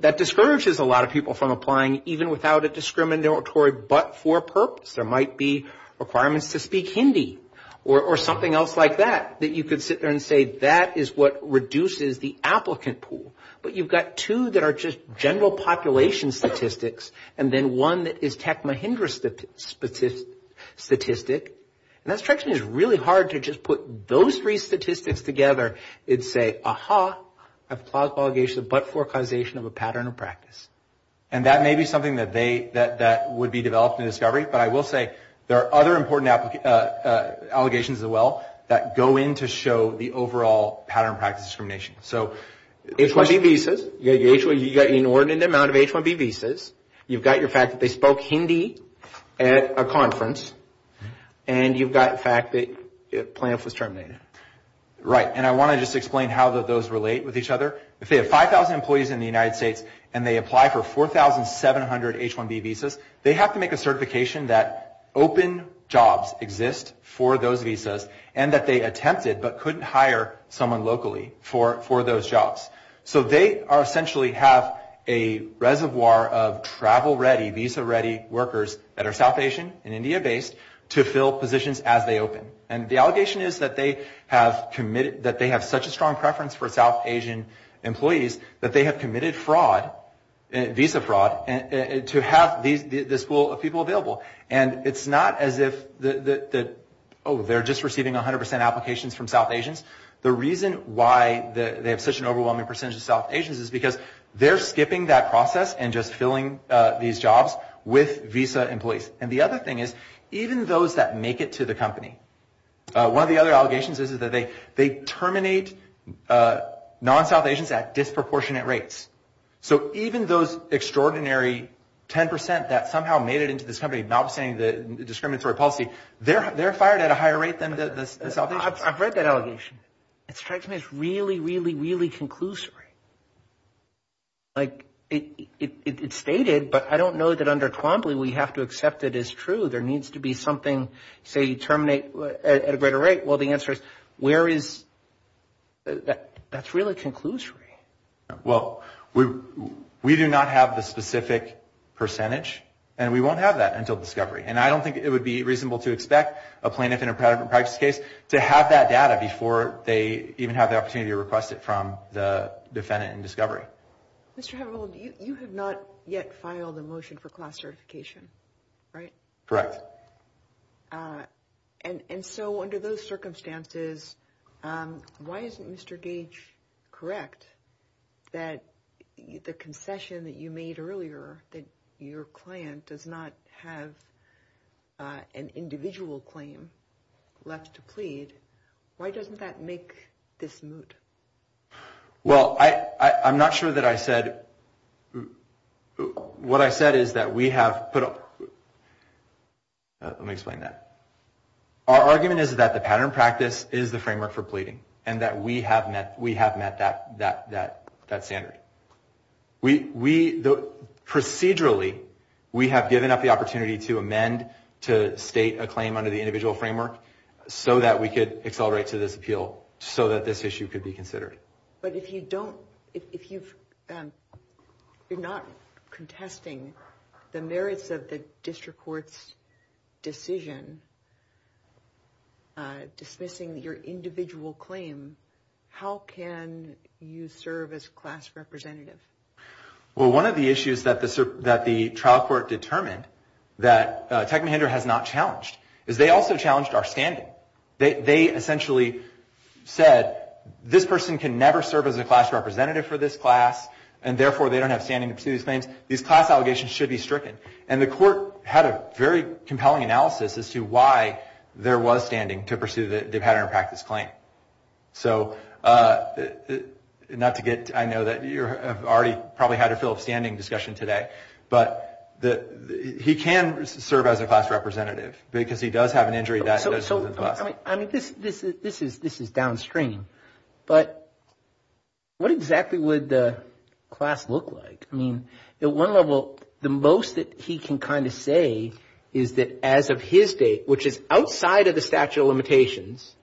that discourages a lot of people from applying, even without a discriminatory but for purpose. There might be requirements to speak Hindi or something else like that, that you could sit there and say that is what reduces the applicant pool. But you've got two that are just general population statistics, and then one that is Tech Mahindra statistic. And that's actually really hard to just put those three statistics together and say, aha, a plausible allegation but for causation of a pattern of practice. But I will say, there are other important allegations as well that go in to show the overall pattern of practice discrimination. H-1B visas, you've got an inordinate amount of H-1B visas. You've got your fact that they spoke Hindi at a conference, and you've got the fact that the plaintiff was terminated. Right, and I want to just explain how those relate with each other. If they have 5,000 employees in the United States and they apply for 4,700 H-1B visas, they have to make a certification that open jobs exist for those visas and that they attempted but couldn't hire someone locally for those jobs. So they essentially have a reservoir of travel-ready, visa-ready workers that are South Asian and India-based to fill positions as they open. And the allegation is that they have such a strong preference for South Asian employees that they have committed fraud, visa fraud, to have this pool of people available. And it's not as if, oh, they're just receiving 100% applications from South Asians. The reason why they have such an overwhelming percentage of South Asians is because they're skipping that process and just filling these jobs with visa employees. And the other thing is, even those that make it to the company, one of the other allegations is that they terminate non-South Asians at disproportionate rates. So even those extraordinary 10% that somehow made it into this company notwithstanding the discriminatory policy, they're fired at a higher rate than the South Asians. I've read that allegation. It strikes me as really, really, really conclusory. Like, it's stated, but I don't know that under Colombo we have to accept it as true. There needs to be something, say, you terminate at a greater rate. Well, the answer is, where is – that's really conclusory. Well, we do not have the specific percentage, and we won't have that until discovery. And I don't think it would be reasonable to expect a plaintiff in a private practice case to have that data before they even have the opportunity to request it from the defendant in discovery. Mr. Howell, you have not yet filed a motion for class certification, right? Correct. And so under those circumstances, why isn't Mr. Gage correct that the concession that you made earlier that your client does not have an individual claim left to plead, why doesn't that make this moot? Well, I'm not sure that I said – what I said is that we have – let me explain that. Our argument is that the pattern practice is the framework for pleading, and that we have met that standard. Procedurally, we have given up the opportunity to amend, to state a claim under the individual framework so that we could accelerate to this appeal, so that this issue could be considered. But if you don't – if you're not contesting the merits of the district court's decision, dismissing your individual claim, how can you serve as class representative? Well, one of the issues that the trial court determined that TechnoHandler has not challenged is they also challenged our standing. They essentially said, this person can never serve as a class representative for this class, and therefore, they don't have standing to pursue these claims. These class allegations should be stricken. And the court had a very compelling analysis as to why there was standing to pursue the pattern practice claim. So not to get – I know that you have already probably had to fill a standing discussion today, but he can serve as a class representative, because he does have an injury that – I mean, this is downstream, but what exactly would the class look like? I mean, at one level, the most that he can kind of say is that as of his date, which is outside of the statute of limitations,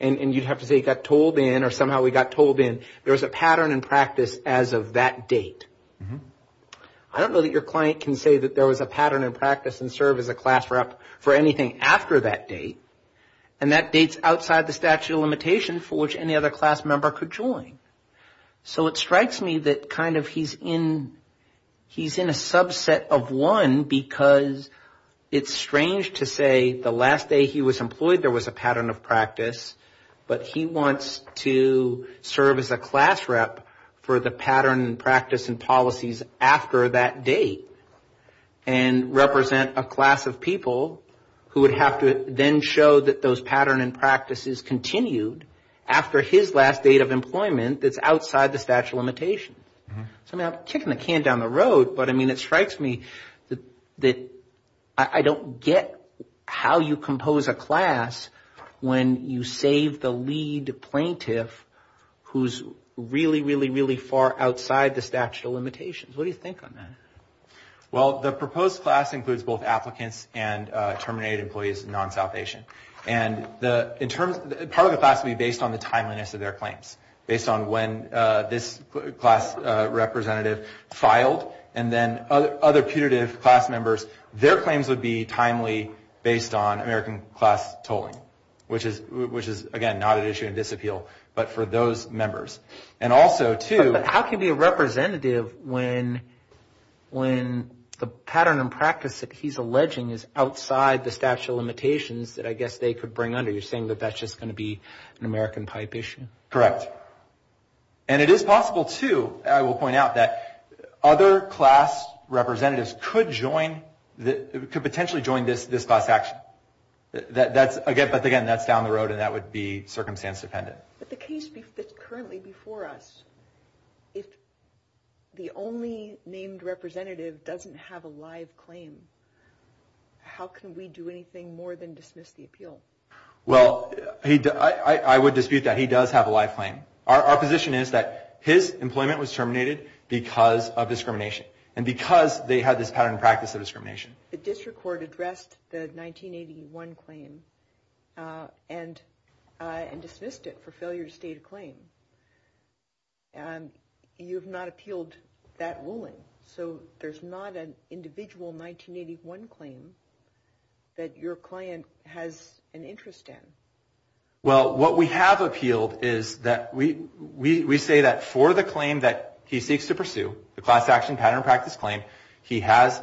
and you'd have to say it got told in, or somehow we got told in, there was a pattern in practice as of that date. I don't know that your client can say that there was a pattern in practice and serve as a class rep for anything after that date, and that date's outside the statute of limitations for which any other class member could join. So it strikes me that kind of he's in a subset of one, because it's strange to say the last day he was employed, there was a pattern of practice, but he wants to serve as a class rep for the pattern and practice and policies after that date and represent a class of people who would have to then show that those pattern and practices continued after his last date of employment that's outside the statute of limitations. So I'm kicking the can down the road, but I mean, it strikes me that I don't get how you compose a class when you save the lead plaintiff who's really, really, really far outside the statute of limitations. What do you think on that? Well, the proposed class includes both applicants and terminated employees, non-salvation. And part of the class would be based on the timeliness of their claims, based on when this class representative filed, and then other putative class members, their claims would be timely based on American class tolling, which is, again, not an issue of disappeal, but for those members. And also, too... But how can you be a representative when the pattern and practice that he's alleging is outside the statute of limitations that I guess they could bring under? You're saying that that's just going to be an American pipe issue? Correct. And it is possible, too, I will point out, that other class representatives could potentially join this class action. Again, that's down the road, and that would be circumstance dependent. But the case currently before us, if the only named representative doesn't have a live claim, how can we do anything more than dismiss the appeal? Well, I would dispute that he does have a live claim. Our position is that his employment was terminated because of discrimination, and because they had this pattern and practice of discrimination. The district court addressed the 1981 claim and dismissed it for failure to state a claim, and you have not appealed that ruling. So there's not an individual 1981 claim that your client has an interest in? Well, what we have appealed is that we say that for the claim that he seeks to pursue, the class action pattern and practice claim, he has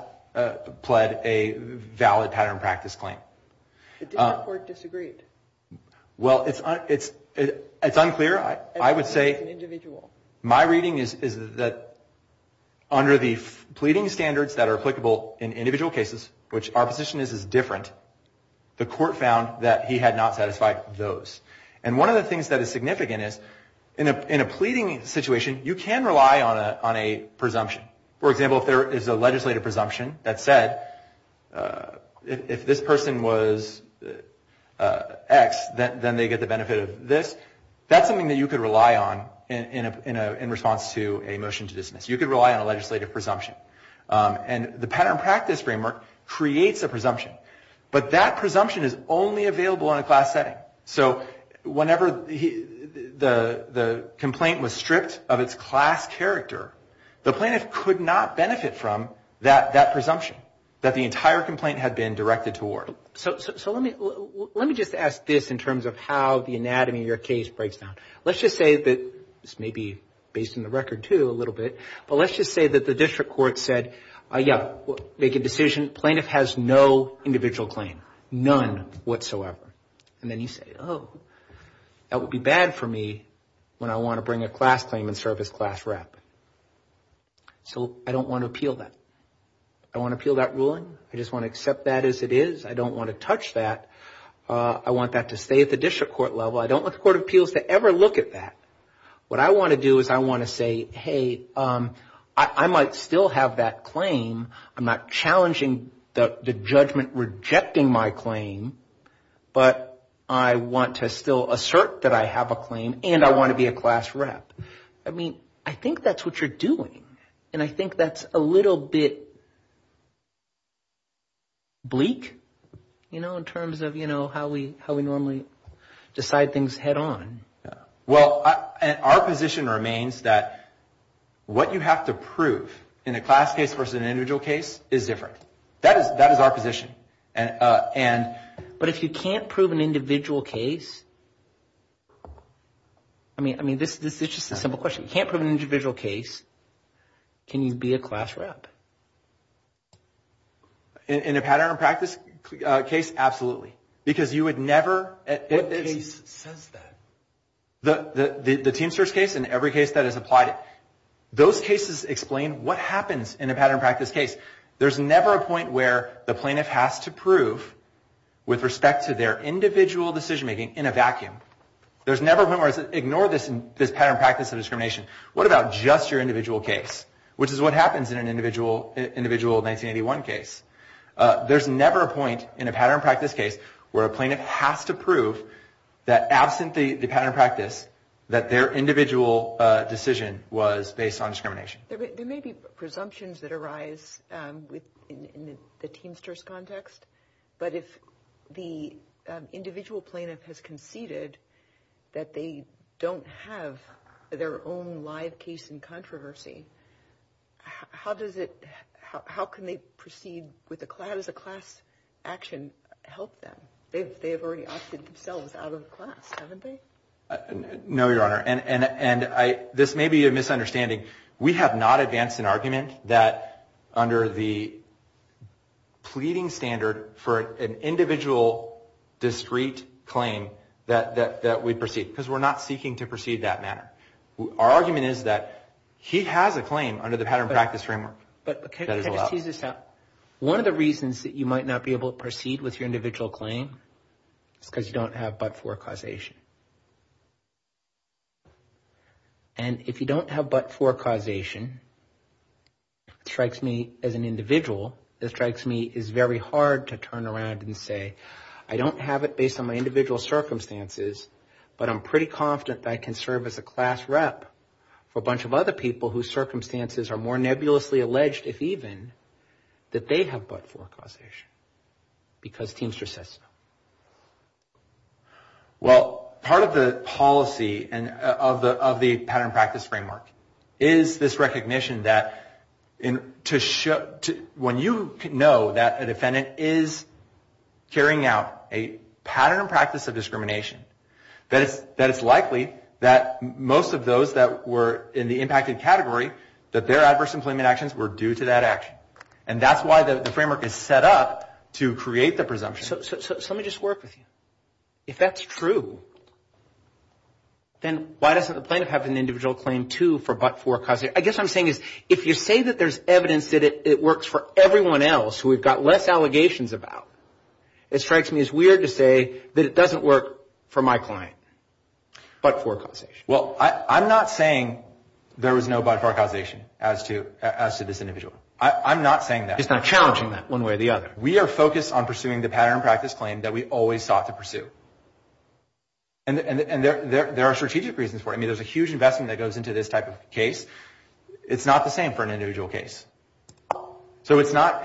pled a valid pattern and practice claim. The district court disagreed. Well, it's unclear. I would say... As an individual. My reading is that under the pleading standards that are applicable in individual cases, which our position is is different, the court found that he had not satisfied those. And one of the things that is significant is in a pleading situation, you can rely on a presumption. For example, if there is a legislative presumption that said if this person was X, then they get the benefit of this, that's something that you could rely on in response to a motion to dismiss. You could rely on a legislative presumption. And the pattern and practice framework creates a presumption. But that presumption is only available in a class setting. So whenever the complaint was stripped of its class character, the plaintiff could not benefit from that presumption that the entire complaint had been directed toward. So let me just ask this in terms of how the anatomy of your case breaks down. Let's just say that this may be based on the record, too, a little bit. But let's just say that the district court said, yeah, make a decision. Plaintiff has no individual claim. None whatsoever. And then you say, oh, that would be bad for me when I want to bring a class claim and serve as class rep. So I don't want to appeal that. I don't want to appeal that ruling. I just want to accept that as it is. I don't want to touch that. I want that to stay at the district court level. I don't want the court of appeals to ever look at that. What I want to do is I want to say, hey, I might still have that claim. I'm not challenging the judgment rejecting my claim. But I want to still assert that I have a claim and I want to be a class rep. I mean, I think that's what you're doing. And I think that's a little bit bleak, you know, in terms of, you know, how we normally decide things head on. Well, our position remains that what you have to prove in a class case versus an individual case is different. That is our position. But if you can't prove an individual case – I mean, this is just a simple question. If you can't prove an individual case, can you be a class rep? In a pattern of practice case, absolutely. Because you would never – The team search case and every case that has applied it. Those cases explain what happens in a pattern of practice case. There's never a point where the plaintiff has to prove with respect to their individual decision making in a vacuum. There's never a point where – ignore this pattern of practice and discrimination. What about just your individual case? Which is what happens in an individual 1981 case. There's never a point in a pattern of practice case where a plaintiff has to prove that absent the pattern of practice, that their individual decision was based on discrimination. There may be presumptions that arise in the team search context. But if the individual plaintiff has conceded that they don't have their own live case in controversy, how can they proceed with a class action help them? They have already acted themselves out of the class, haven't they? No, Your Honor. And this may be a misunderstanding. We have not advanced an argument that under the pleading standard for an individual discreet claim that we proceed. Because we're not seeking to proceed that manner. Our argument is that he has a claim under the pattern of practice framework. But can you tease this out? One of the reasons that you might not be able to proceed with your individual claim is because you don't have but-for causation. And if you don't have but-for causation, it strikes me as an individual, it strikes me as very hard to turn around and say, I don't have it based on my individual circumstances, but I'm pretty confident that I can serve as a class rep for a bunch of other people whose circumstances are more nebulously alleged, if even, that they have but-for causation. Because Teamster says so. Well, part of the policy of the pattern of practice framework is this recognition that when you know that a defendant is carrying out a pattern of practice of discrimination, that it's likely that most of those that were in the impacted category, that their adverse employment actions were due to that action. And that's why the framework is set up to create the presumption. So let me just work with you. If that's true, then why doesn't the plaintiff have an individual claim too for but-for causation? I guess what I'm saying is, if you say that there's evidence that it works for everyone else who we've got less allegations about, it strikes me as weird to say that it doesn't work for my client, but-for causation. Well, I'm not saying there was no but-for causation as to this individual. I'm not saying that. It's not challenging that one way or the other. We are focused on pursuing the pattern of practice claim that we always sought to pursue. And there are strategic reasons for it. I mean, there's a huge investment that goes into this type of case. It's not the same for an individual case. So it's not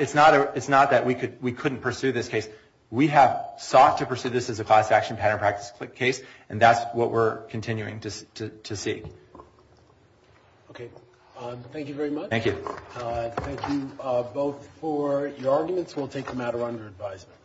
that we couldn't pursue this case. We have sought to pursue this as a class action pattern of practice case, and that's what we're continuing to see. Okay. Thank you very much. Thank you. Thank you both for your arguments. We'll take the matter under advisement.